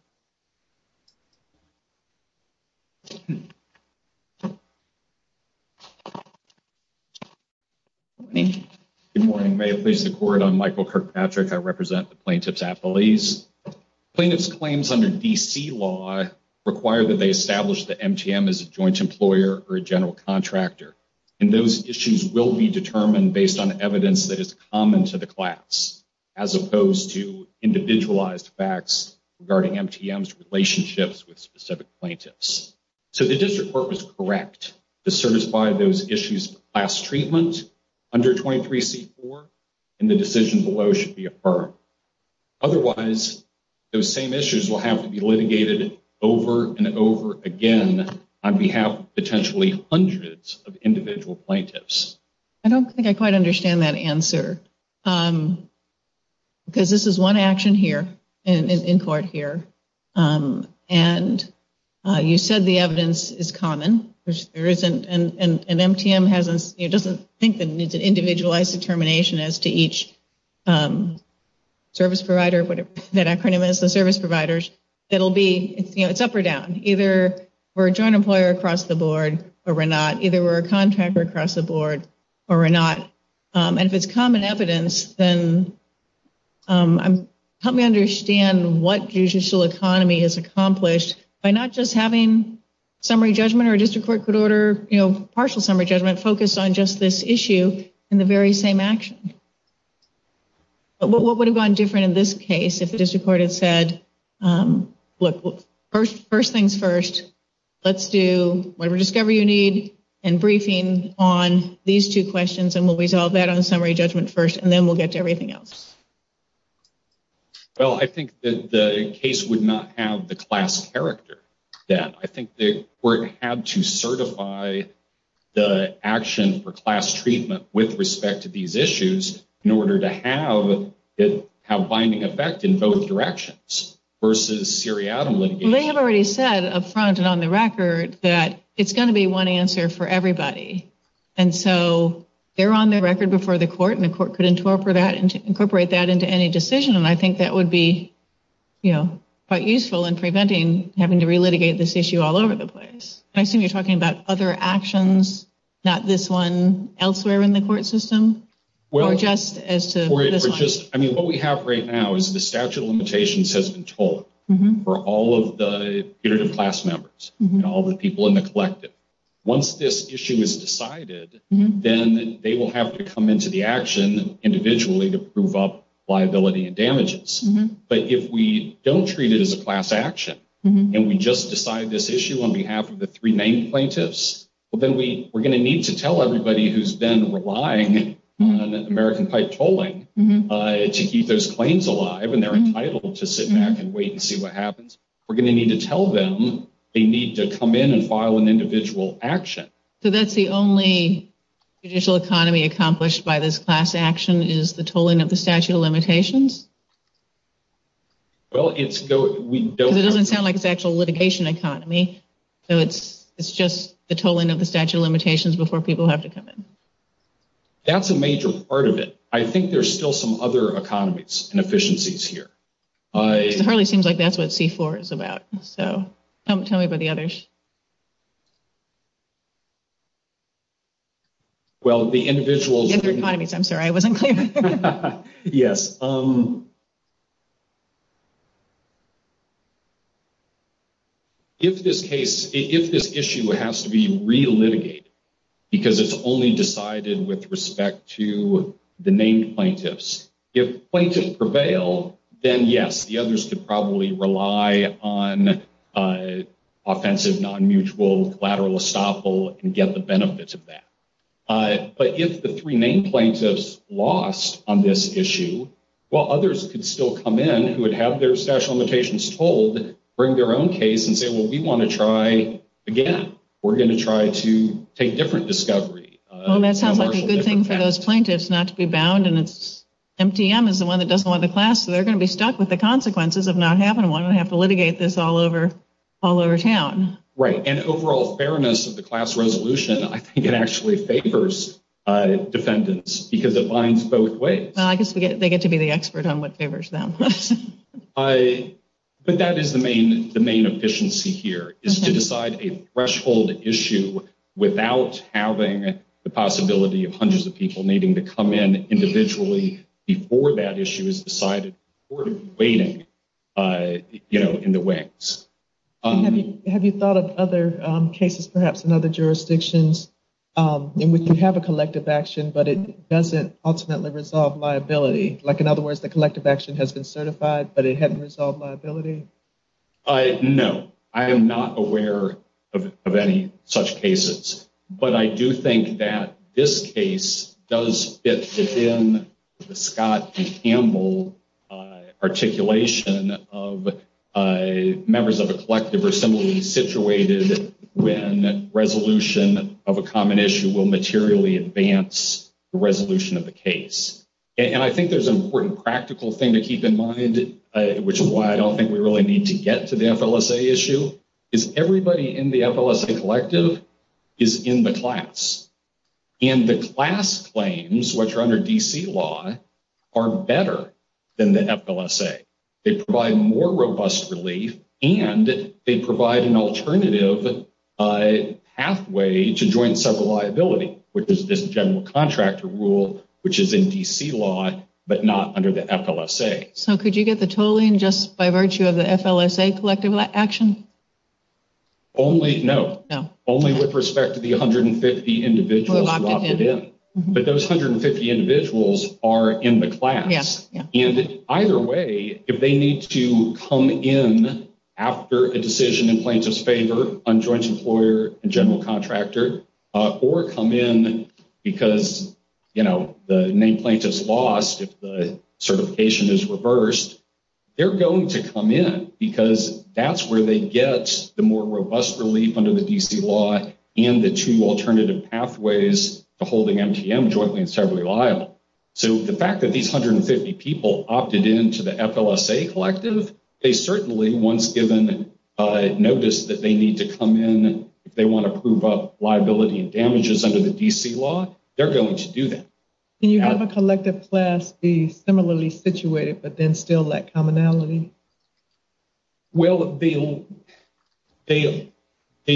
Good morning. Good morning. May it please the court, I'm Michael Kirkpatrick. I represent the plaintiff's affiliates. Plaintiff's claims under D.C. law require that they establish that MTM is a joint employer or a general contractor. And those issues will be determined based on evidence that is common to the class, as opposed to individualized facts regarding MTM's relationships with specific plaintiffs. So the district court was correct to certify those issues of class treatment under 23C-4, and the decision below should be affirmed. Otherwise, those same issues will have to be litigated over and over again on behalf of potentially hundreds of individual plaintiffs. I don't think I quite understand that answer. Because this is one action here, in court here, and you said the evidence is common. And MTM doesn't think that it needs an individualized determination as to each service provider, whatever that acronym is, the service providers. It will be, you know, it's up or down. Either we're a joint employer across the board or we're not. Either we're a contractor across the board or we're not. And if it's common evidence, then help me understand what judicial economy has accomplished by not just having summary judgment or a district court could order, you know, partial summary judgment focused on just this issue in the very same action. What would have gone different in this case if the district court had said, look, first things first, let's do whatever discovery you need and briefing on these two questions, and we'll resolve that on summary judgment first, and then we'll get to everything else. Well, I think that the case would not have the class character. I think the court had to certify the action for class treatment with respect to these issues in order to have it have binding effect in both directions versus seriatim litigation. Well, they have already said up front and on the record that it's going to be one answer for everybody. And so they're on the record before the court, and the court could incorporate that into any decision. And I think that would be, you know, quite useful in preventing having to relitigate this issue all over the place. I assume you're talking about other actions, not this one elsewhere in the court system or just as to this one. I mean, what we have right now is the statute of limitations has been told for all of the class members and all the people in the collective. Once this issue is decided, then they will have to come into the action individually to prove up liability and damages. But if we don't treat it as a class action and we just decide this issue on behalf of the three main plaintiffs, well, then we we're going to need to tell everybody who's been relying on American pipe tolling to keep those claims alive. And they're entitled to sit back and wait and see what happens. We're going to need to tell them they need to come in and file an individual action. So that's the only judicial economy accomplished by this class action is the tolling of the statute of limitations. Well, it's we don't it doesn't sound like it's actual litigation economy. So it's it's just the tolling of the statute of limitations before people have to come in. That's a major part of it. I think there's still some other economies and efficiencies here. I hardly seems like that's what C4 is about. So tell me about the others. Well, the individual economies, I'm sorry, I wasn't clear. Yes. If this case if this issue has to be relitigated because it's only decided with respect to the main plaintiffs, if plaintiff prevail, then, yes, the others could probably rely on offensive non-mutual collateral estoppel and get the benefits of that. But if the three main plaintiffs lost on this issue, well, others could still come in who would have their statute of limitations told bring their own case and say, well, we want to try again. We're going to try to take different discovery. Well, that sounds like a good thing for those plaintiffs not to be bound. And it's MTM is the one that doesn't want the class. So they're going to be stuck with the consequences of not having one. I have to litigate this all over, all over town. Right. And overall fairness of the class resolution. I think it actually favors defendants because it binds both ways. I guess they get to be the expert on what favors them. But that is the main the main efficiency here is to decide a threshold issue without having the possibility of hundreds of people needing to come in individually before that issue is decided or waiting in the wings. Have you thought of other cases, perhaps in other jurisdictions in which you have a collective action, but it doesn't ultimately resolve liability? Like, in other words, the collective action has been certified, but it hadn't resolved liability. No, I am not aware of any such cases. But I do think that this case does fit in the Scott Campbell articulation of members of a collective or simply situated when resolution of a common issue will materially advance the resolution of the case. And I think there's an important practical thing to keep in mind, which is why I don't think we really need to get to the FLSA issue is everybody in the FLSA collective is in the class. And the class claims, which are under D.C. law, are better than the FLSA. They provide more robust relief and they provide an alternative pathway to joint liability, which is this general contractor rule, which is in D.C. law, but not under the FLSA. So could you get the tolling just by virtue of the FLSA collective action? Only no, no, only with respect to the hundred and fifty individuals. But those hundred and fifty individuals are in the class. And either way, if they need to come in after a decision in plaintiff's favor on joint employer and general contractor or come in because, you know, the name plaintiff's lost. If the certification is reversed, they're going to come in because that's where they get the more robust relief under the D.C. law and the two alternative pathways to holding MGM jointly and separately liable. So the fact that these hundred and fifty people opted into the FLSA collective, they certainly once given notice that they need to come in, they want to prove up liability and damages under the D.C. law. They're going to do that. Can you have a collective class be similarly situated, but then still lack commonality? Well, they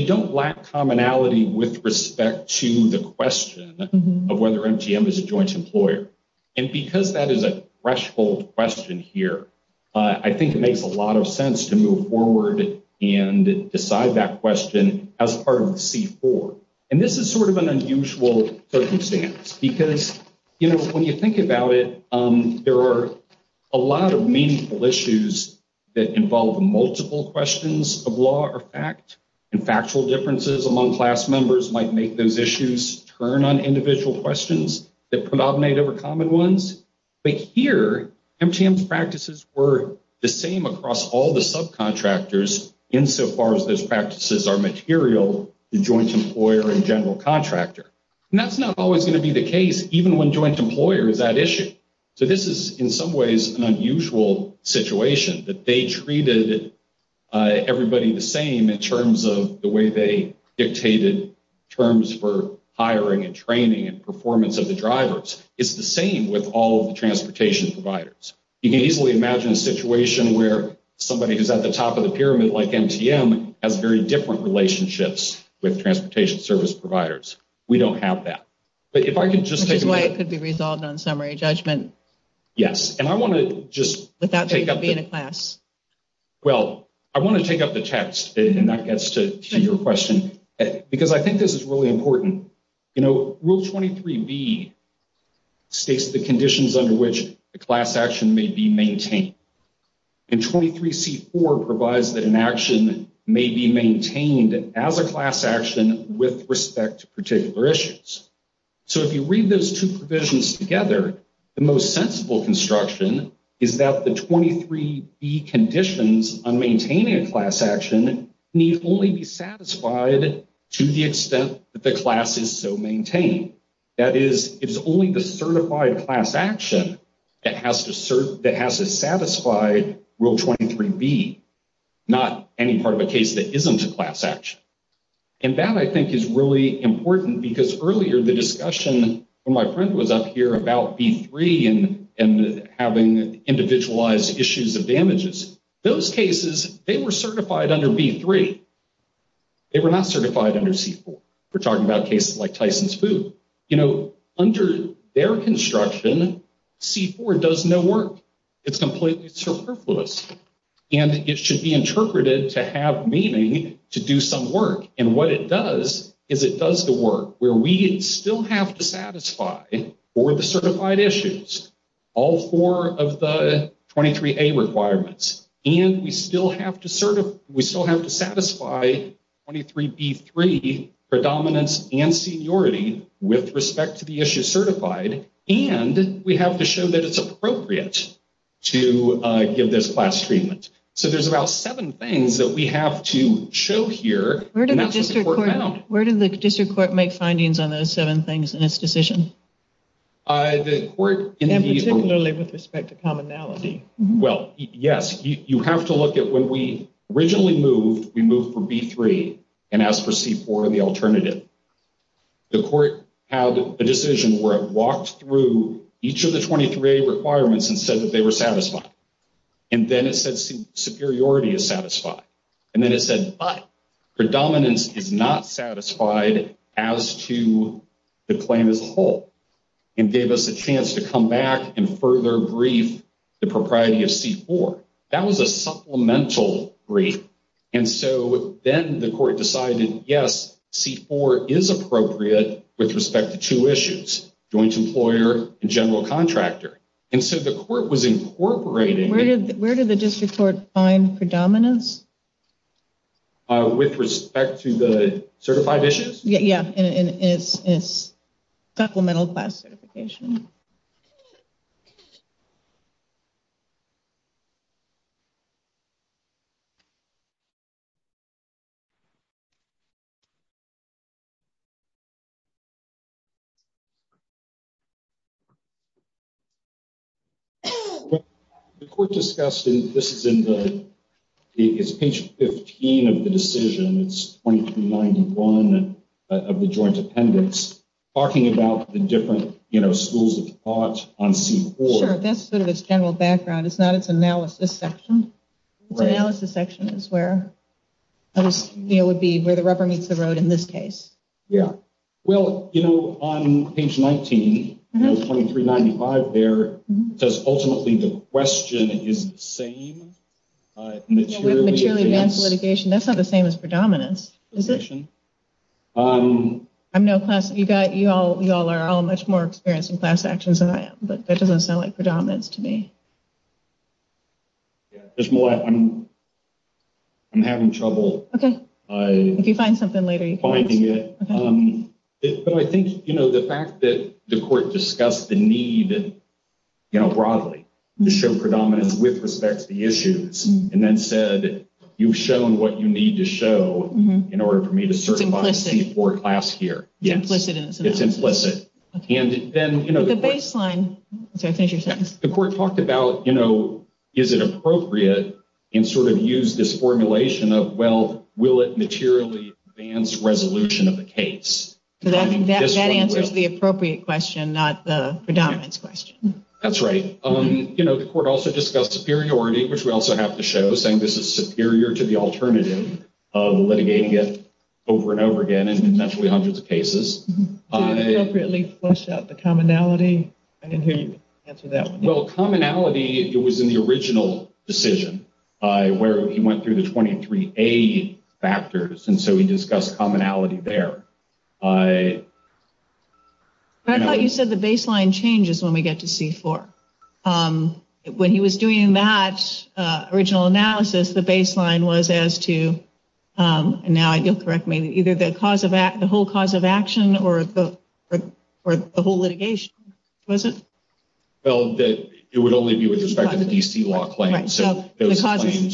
don't lack commonality with respect to the question of whether MGM is a joint employer. And because that is a threshold question here, I think it makes a lot of sense to move forward and decide that question as part of the C-4. And this is sort of an unusual circumstance because, you know, when you think about it, there are a lot of meaningful issues that involve multiple questions of law or fact. And factual differences among class members might make those issues turn on individual questions that predominate over common ones. But here, MGM's practices were the same across all the subcontractors insofar as those practices are material to joint employer and general contractor. And that's not always going to be the case, even when joint employer is at issue. So this is in some ways an unusual situation that they treated everybody the same in terms of the way they dictated terms for hiring and training and performance of the drivers. It's the same with all of the transportation providers. You can easily imagine a situation where somebody who's at the top of the pyramid like MGM has very different relationships with transportation service providers. We don't have that. Which is why it could be resolved on summary judgment. Yes. Without there being a class. Well, I want to take up the text, and that gets to your question, because I think this is really important. Rule 23B states the conditions under which the class action may be maintained. And 23C4 provides that an action may be maintained as a class action with respect to particular issues. So if you read those two provisions together, the most sensible construction is that the 23B conditions on maintaining a class action need only be satisfied to the extent that the class is so maintained. That is, it's only the certified class action that has to satisfy Rule 23B, not any part of a case that isn't a class action. And that, I think, is really important, because earlier in the discussion, when my friend was up here about B3 and having individualized issues of damages, those cases, they were certified under B3. They were not certified under C4. We're talking about cases like Tyson's Food. You know, under their construction, C4 does no work. It's completely superfluous. And it should be interpreted to have meaning to do some work. And what it does is it does the work where we still have to satisfy for the certified issues all four of the 23A requirements. And we still have to satisfy 23B3, predominance and seniority, with respect to the issue certified. And we have to show that it's appropriate to give this class treatment. So there's about seven things that we have to show here. And that's what the court found. Where did the district court make findings on those seven things in its decision? And particularly with respect to commonality. Well, yes. You have to look at when we originally moved, we moved for B3 and asked for C4 in the alternative. The court had a decision where it walked through each of the 23A requirements and said that they were satisfied. And then it said superiority is satisfied. And then it said, but predominance is not satisfied as to the claim as a whole. And gave us a chance to come back and further brief the propriety of C4. That was a supplemental brief. And so then the court decided, yes, C4 is appropriate with respect to two issues, joint employer and general contractor. And so the court was incorporating. Where did the district court find predominance? With respect to the certified issues? Yeah. And it's supplemental class certification. Okay. The court discussed, this is in the, it's page 15 of the decision. It's 2391 of the joint appendix. Talking about the different schools of thought on C4. Sure, that's sort of its general background. It's not its analysis section. Its analysis section is where the rubber meets the road in this case. Yeah. Well, you know, on page 19, 2395 there, it says ultimately the question is the same. With maturely advanced litigation, that's not the same as predominance. Is it? I'm no class, you got, you all are all much more experienced in class actions than I am. But that doesn't sound like predominance to me. Yeah, there's more. I'm having trouble. Okay. If you find something later. Finding it. But I think, you know, the fact that the court discussed the need, you know, broadly to show predominance with respect to the issues. And then said, you've shown what you need to show in order for me to certify C4 class here. It's implicit. It's implicit. And then, you know. The baseline. Sorry, finish your sentence. The court talked about, you know, is it appropriate and sort of used this formulation of, well, will it materially advance resolution of the case? That answers the appropriate question, not the predominance question. That's right. You know, the court also discussed superiority, which we also have to show, saying this is superior to the alternative of litigating it over and over again in potentially hundreds of cases. Did he appropriately flesh out the commonality? I didn't hear you answer that one. Well, commonality, it was in the original decision where he went through the 23A factors. And so he discussed commonality there. I thought you said the baseline changes when we get to C4. When he was doing that original analysis, the baseline was as to, and now you'll correct me, either the whole cause of action or the whole litigation, was it? Well, it would only be with respect to the D.C. law claims. So the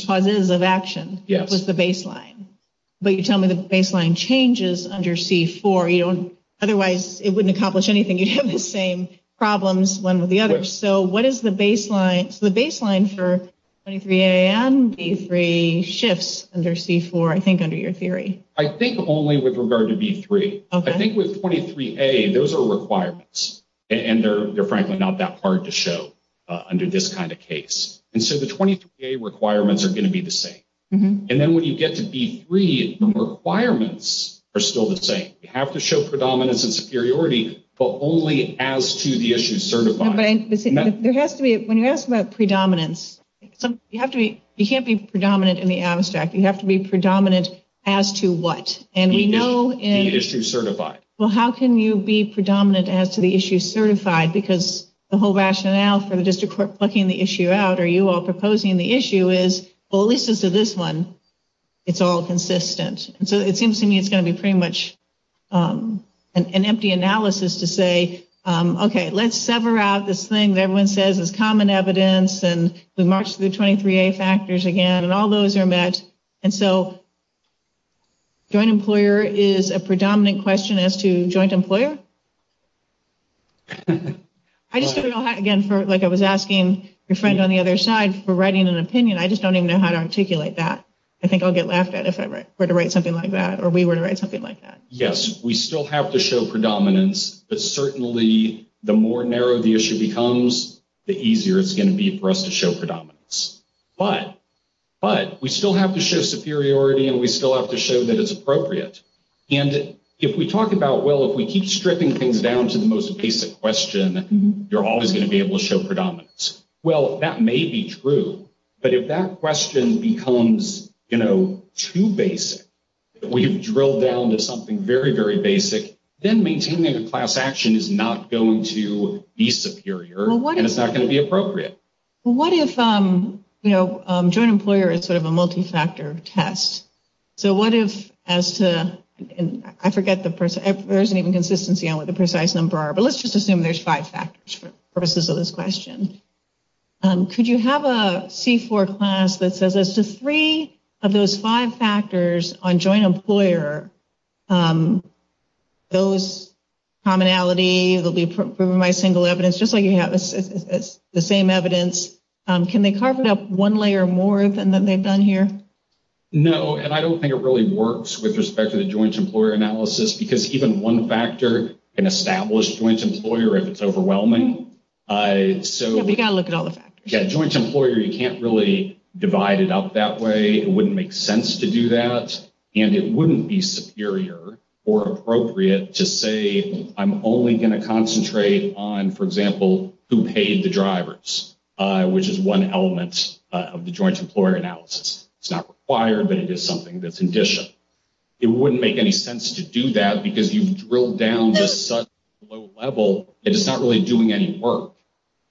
causes of action was the baseline. Yes. So you tell me the baseline changes under C4. Otherwise, it wouldn't accomplish anything. You'd have the same problems, one with the other. So what is the baseline for 23A and B3 shifts under C4, I think, under your theory? I think only with regard to B3. I think with 23A, those are requirements, and they're frankly not that hard to show under this kind of case. And so the 23A requirements are going to be the same. And then when you get to B3, the requirements are still the same. You have to show predominance and superiority, but only as to the issue certified. When you ask about predominance, you can't be predominant in the abstract. You have to be predominant as to what? The issue certified. Well, how can you be predominant as to the issue certified? Because the whole rationale for the district court plucking the issue out or you all proposing the issue is, well, at least as to this one, it's all consistent. And so it seems to me it's going to be pretty much an empty analysis to say, okay, let's sever out this thing that everyone says is common evidence, and we march through the 23A factors again, and all those are met. And so joint employer is a predominant question as to joint employer? I just don't know how, again, like I was asking your friend on the other side for writing an opinion. I just don't even know how to articulate that. I think I'll get laughed at if I were to write something like that or we were to write something like that. Yes, we still have to show predominance, but certainly the more narrow the issue becomes, the easier it's going to be for us to show predominance. But we still have to show superiority, and we still have to show that it's appropriate. And if we talk about, well, if we keep stripping things down to the most basic question, you're always going to be able to show predominance. Well, that may be true, but if that question becomes, you know, too basic, we've drilled down to something very, very basic, then maintaining a class action is not going to be superior, and it's not going to be appropriate. What if, you know, joint employer is sort of a multi-factor test? So what if as to, and I forget, there isn't even consistency on what the precise number are, but let's just assume there's five factors for purposes of this question. Could you have a C4 class that says as to three of those five factors on joint employer, those commonality will be proven by single evidence, just like you have the same evidence. Can they carve it up one layer more than they've done here? No, and I don't think it really works with respect to the joint employer analysis, because even one factor can establish joint employer if it's overwhelming. Yeah, but you've got to look at all the factors. Yeah, joint employer, you can't really divide it up that way. It wouldn't make sense to do that, and it wouldn't be superior or appropriate to say, I'm only going to concentrate on, for example, who paid the drivers, which is one element of the joint employer analysis. It's not required, but it is something that's in addition. It wouldn't make any sense to do that, because you've drilled down to such a low level, and it's not really doing any work.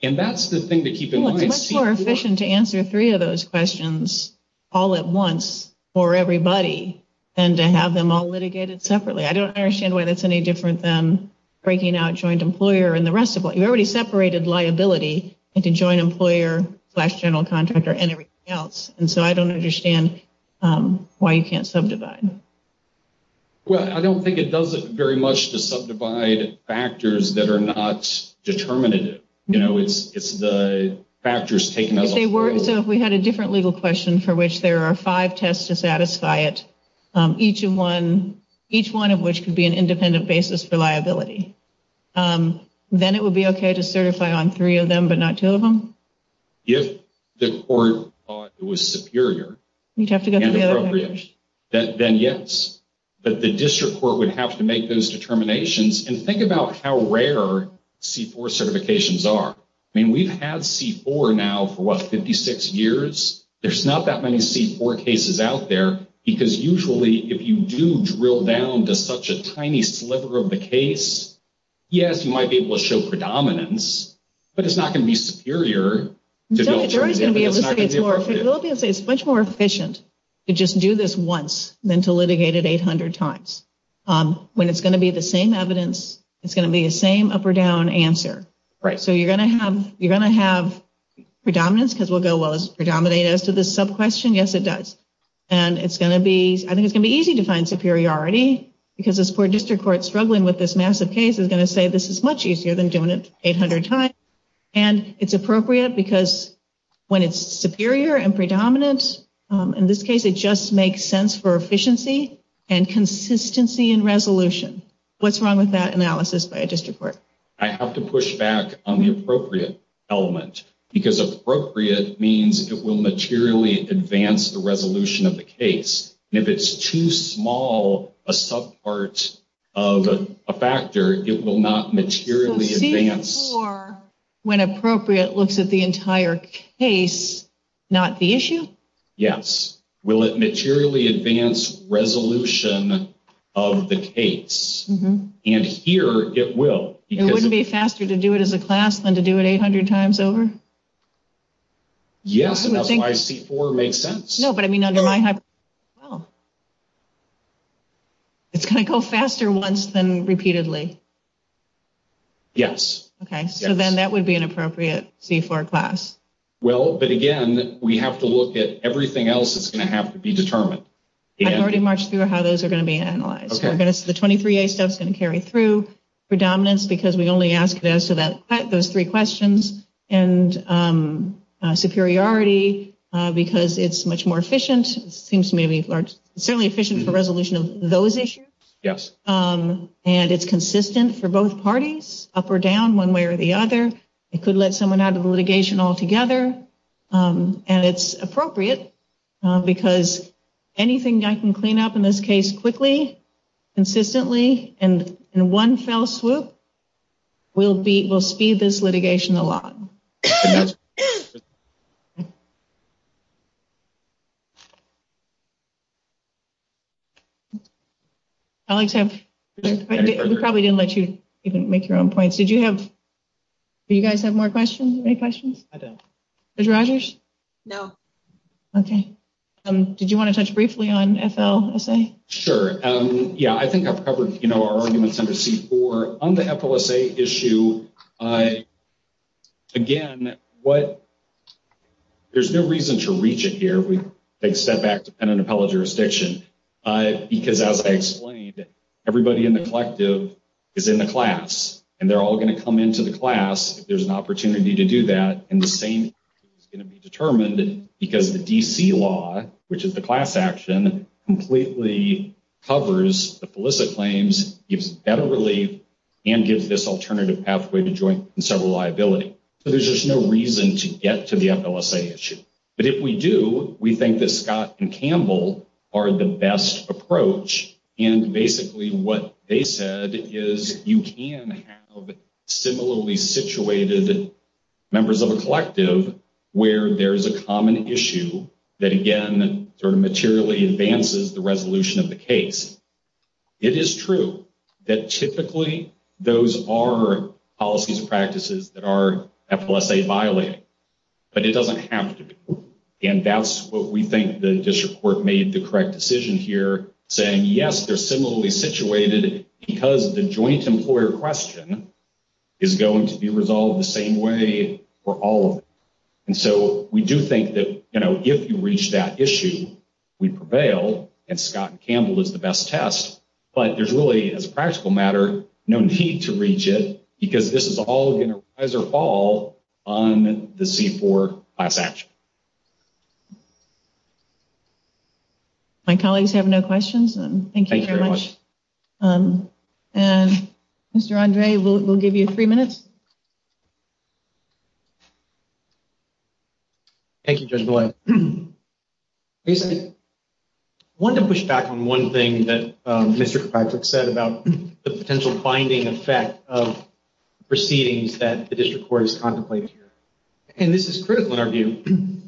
And that's the thing to keep in mind. It's much more efficient to answer three of those questions all at once for everybody than to have them all litigated separately. I don't understand why that's any different than breaking out joint employer and the rest of it. You've already separated liability into joint employer, general contractor, and everything else, and so I don't understand why you can't subdivide. Well, I don't think it does it very much to subdivide factors that are not determinative. You know, it's the factors taken as a whole. So if we had a different legal question for which there are five tests to satisfy it, each one of which could be an independent basis for liability, then it would be okay to certify on three of them but not two of them? If the court thought it was superior and appropriate, then yes. But the district court would have to make those determinations. And think about how rare C-4 certifications are. I mean, we've had C-4 now for, what, 56 years? There's not that many C-4 cases out there because usually if you do drill down to such a tiny sliver of the case, yes, you might be able to show predominance, but it's not going to be superior. They're always going to be able to say it's much more efficient to just do this once than to litigate it 800 times. When it's going to be the same evidence, it's going to be the same up or down answer. So you're going to have predominance because we'll go, well, is it predominant as to this sub-question? Yes, it does. And I think it's going to be easy to find superiority because this poor district court struggling with this massive case is going to say this is much easier than doing it 800 times. And it's appropriate because when it's superior and predominant, in this case it just makes sense for efficiency and consistency in resolution. What's wrong with that analysis by a district court? I have to push back on the appropriate element because appropriate means it will materially advance the resolution of the case. And if it's too small a sub-part of a factor, it will not materially advance. Or when appropriate looks at the entire case, not the issue? Yes. Will it materially advance resolution of the case? And here it will. It wouldn't be faster to do it as a class than to do it 800 times over? Yes, and that's why C4 makes sense. No, but I mean under my hypothesis as well. It's going to go faster once than repeatedly. Yes. Okay, so then that would be an appropriate C4 class. Well, but again, we have to look at everything else that's going to have to be determined. I've already marched through how those are going to be analyzed. The 23A stuff is going to carry through. Predominance because we only ask those three questions. And superiority because it's much more efficient. It seems to me to be certainly efficient for resolution of those issues. Yes. And it's consistent for both parties, up or down, one way or the other. It could let someone out of the litigation altogether. And it's appropriate because anything I can clean up in this case quickly, consistently, and in one fell swoop will speed this litigation along. Okay. We probably didn't let you even make your own points. Do you guys have more questions? Any questions? I don't. Mr. Rogers? No. Okay. Did you want to touch briefly on FLSA? Sure. Yeah, I think I've covered our arguments under C4. On the FLSA issue, again, there's no reason to reach it here. We take a step back to pen and appellate jurisdiction. Because as I explained, everybody in the collective is in the class. And they're all going to come into the class if there's an opportunity to do that. And the same is going to be determined because the D.C. law, which is the class action, completely covers the felicit claims, gives better relief, and gives this alternative pathway to joint and several liability. So there's just no reason to get to the FLSA issue. But if we do, we think that Scott and Campbell are the best approach. And basically what they said is you can have similarly situated members of a collective where there's a common issue that, again, sort of materially advances the resolution of the case. It is true that typically those are policies and practices that are FLSA violating. But it doesn't have to be. And that's what we think the district court made the correct decision here, saying, yes, they're similarly situated because the joint employer question is going to be resolved the same way for all of them. And so we do think that, you know, if you reach that issue, we prevail. And Scott and Campbell is the best test. But there's really, as a practical matter, no need to reach it because this is all going to rise or fall on the C4 class action. My colleagues have no questions. Thank you very much. And Mr. Andre, we'll give you three minutes. Thank you, Judge Boyle. I wanted to push back on one thing that Mr. Patrick said about the potential binding effect of proceedings that the district court is contemplating here. And this is critical in our view.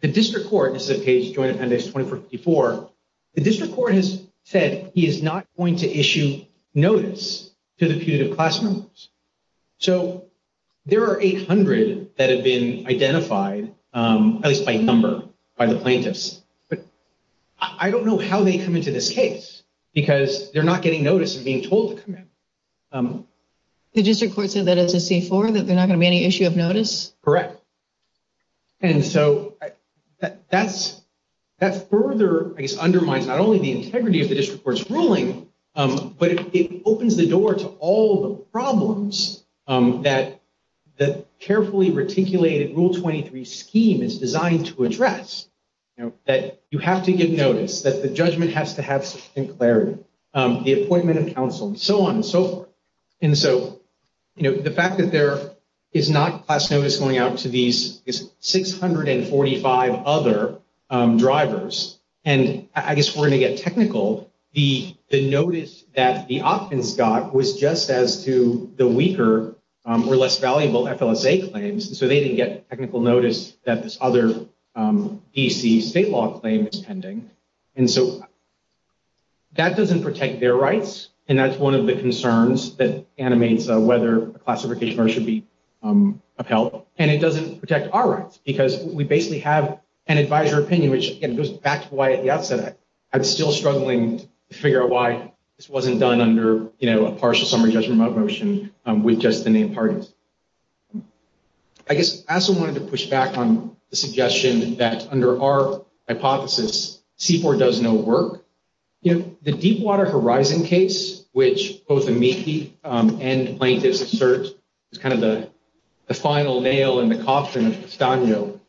The district court, this is a case of Joint Appendix 2454. The district court has said he is not going to issue notice to the putative class members. So there are 800 that have been identified, at least by number, by the plaintiffs. But I don't know how they come into this case because they're not getting notice of being told to come in. The district court said that as a C4, that they're not going to be any issue of notice? Correct. And so that further, I guess, undermines not only the integrity of the district court's ruling, but it opens the door to all the problems that the carefully reticulated Rule 23 scheme is designed to address. That you have to give notice, that the judgment has to have some clarity, the appointment of counsel, and so on and so forth. And so the fact that there is not class notice going out to these 645 other drivers, and I guess we're going to get technical, the notice that the opt-ins got was just as to the weaker or less valuable FLSA claims. And so they didn't get technical notice that this other DC state law claim is pending. And so that doesn't protect their rights. And that's one of the concerns that animates whether classification or should be upheld. And it doesn't protect our rights because we basically have an advisor opinion, which goes back to why at the outset, I'm still struggling to figure out why this wasn't done under, you know, a partial summary judgment motion with just the name parties. I guess I also wanted to push back on the suggestion that under our hypothesis, C4 does no work. You know, the deep water horizon case, which both amici and plaintiffs assert is kind of the final nail in the coffin of Castano.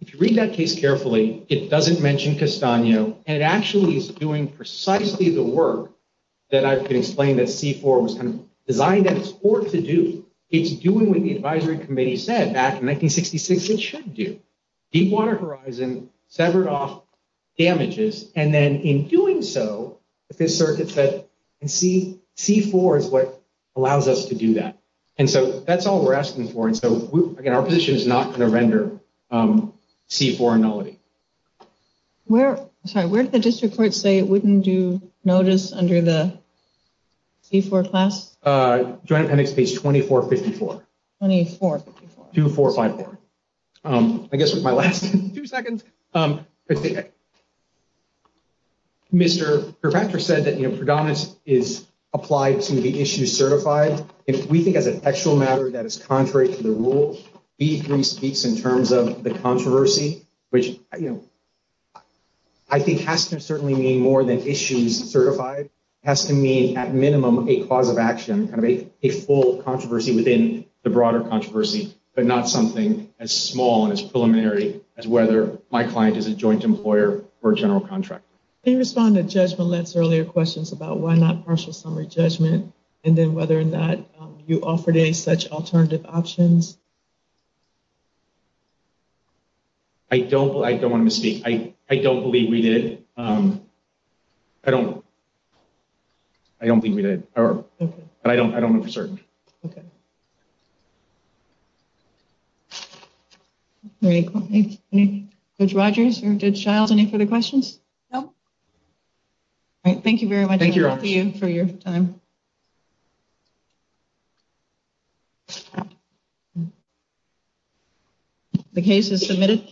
If you read that case carefully, it doesn't mention Castano and it actually is doing precisely the work that I've been explaining that C4 was kind of designed at its core to do. It's doing what the advisory committee said back in 1966, it should do. Deep water horizon severed off damages. And then in doing so, the circuit said C4 is what allows us to do that. And so that's all we're asking for. And so again, our position is not going to render C4 a nullity. Where did the district court say it wouldn't do notice under the C4 class? Joint appendix page 2454. 2454. 2454. I guess with my last two seconds. Mr. Perpacher said that, you know, predominance is applied to the issue certified. We think as an actual matter that is contrary to the rule, B3 speaks in terms of the controversy, which, you know, I think has to certainly mean more than issues certified has to mean at minimum, a cause of action, kind of a full controversy within the broader controversy, but not something as small and as preliminary as whether my client is a joint employer or general contractor. They respond to judgment less earlier questions about why not partial summary judgment. And then whether or not you offered any such alternative options. I don't, I don't want to misspeak. I don't believe we did. I don't, I don't think we did, but I don't, I don't know for certain. Okay. Great. Thank you. Good Rogers or good child. Any further questions? No. All right. Thank you very much. Thank you for your time. The case is submitted.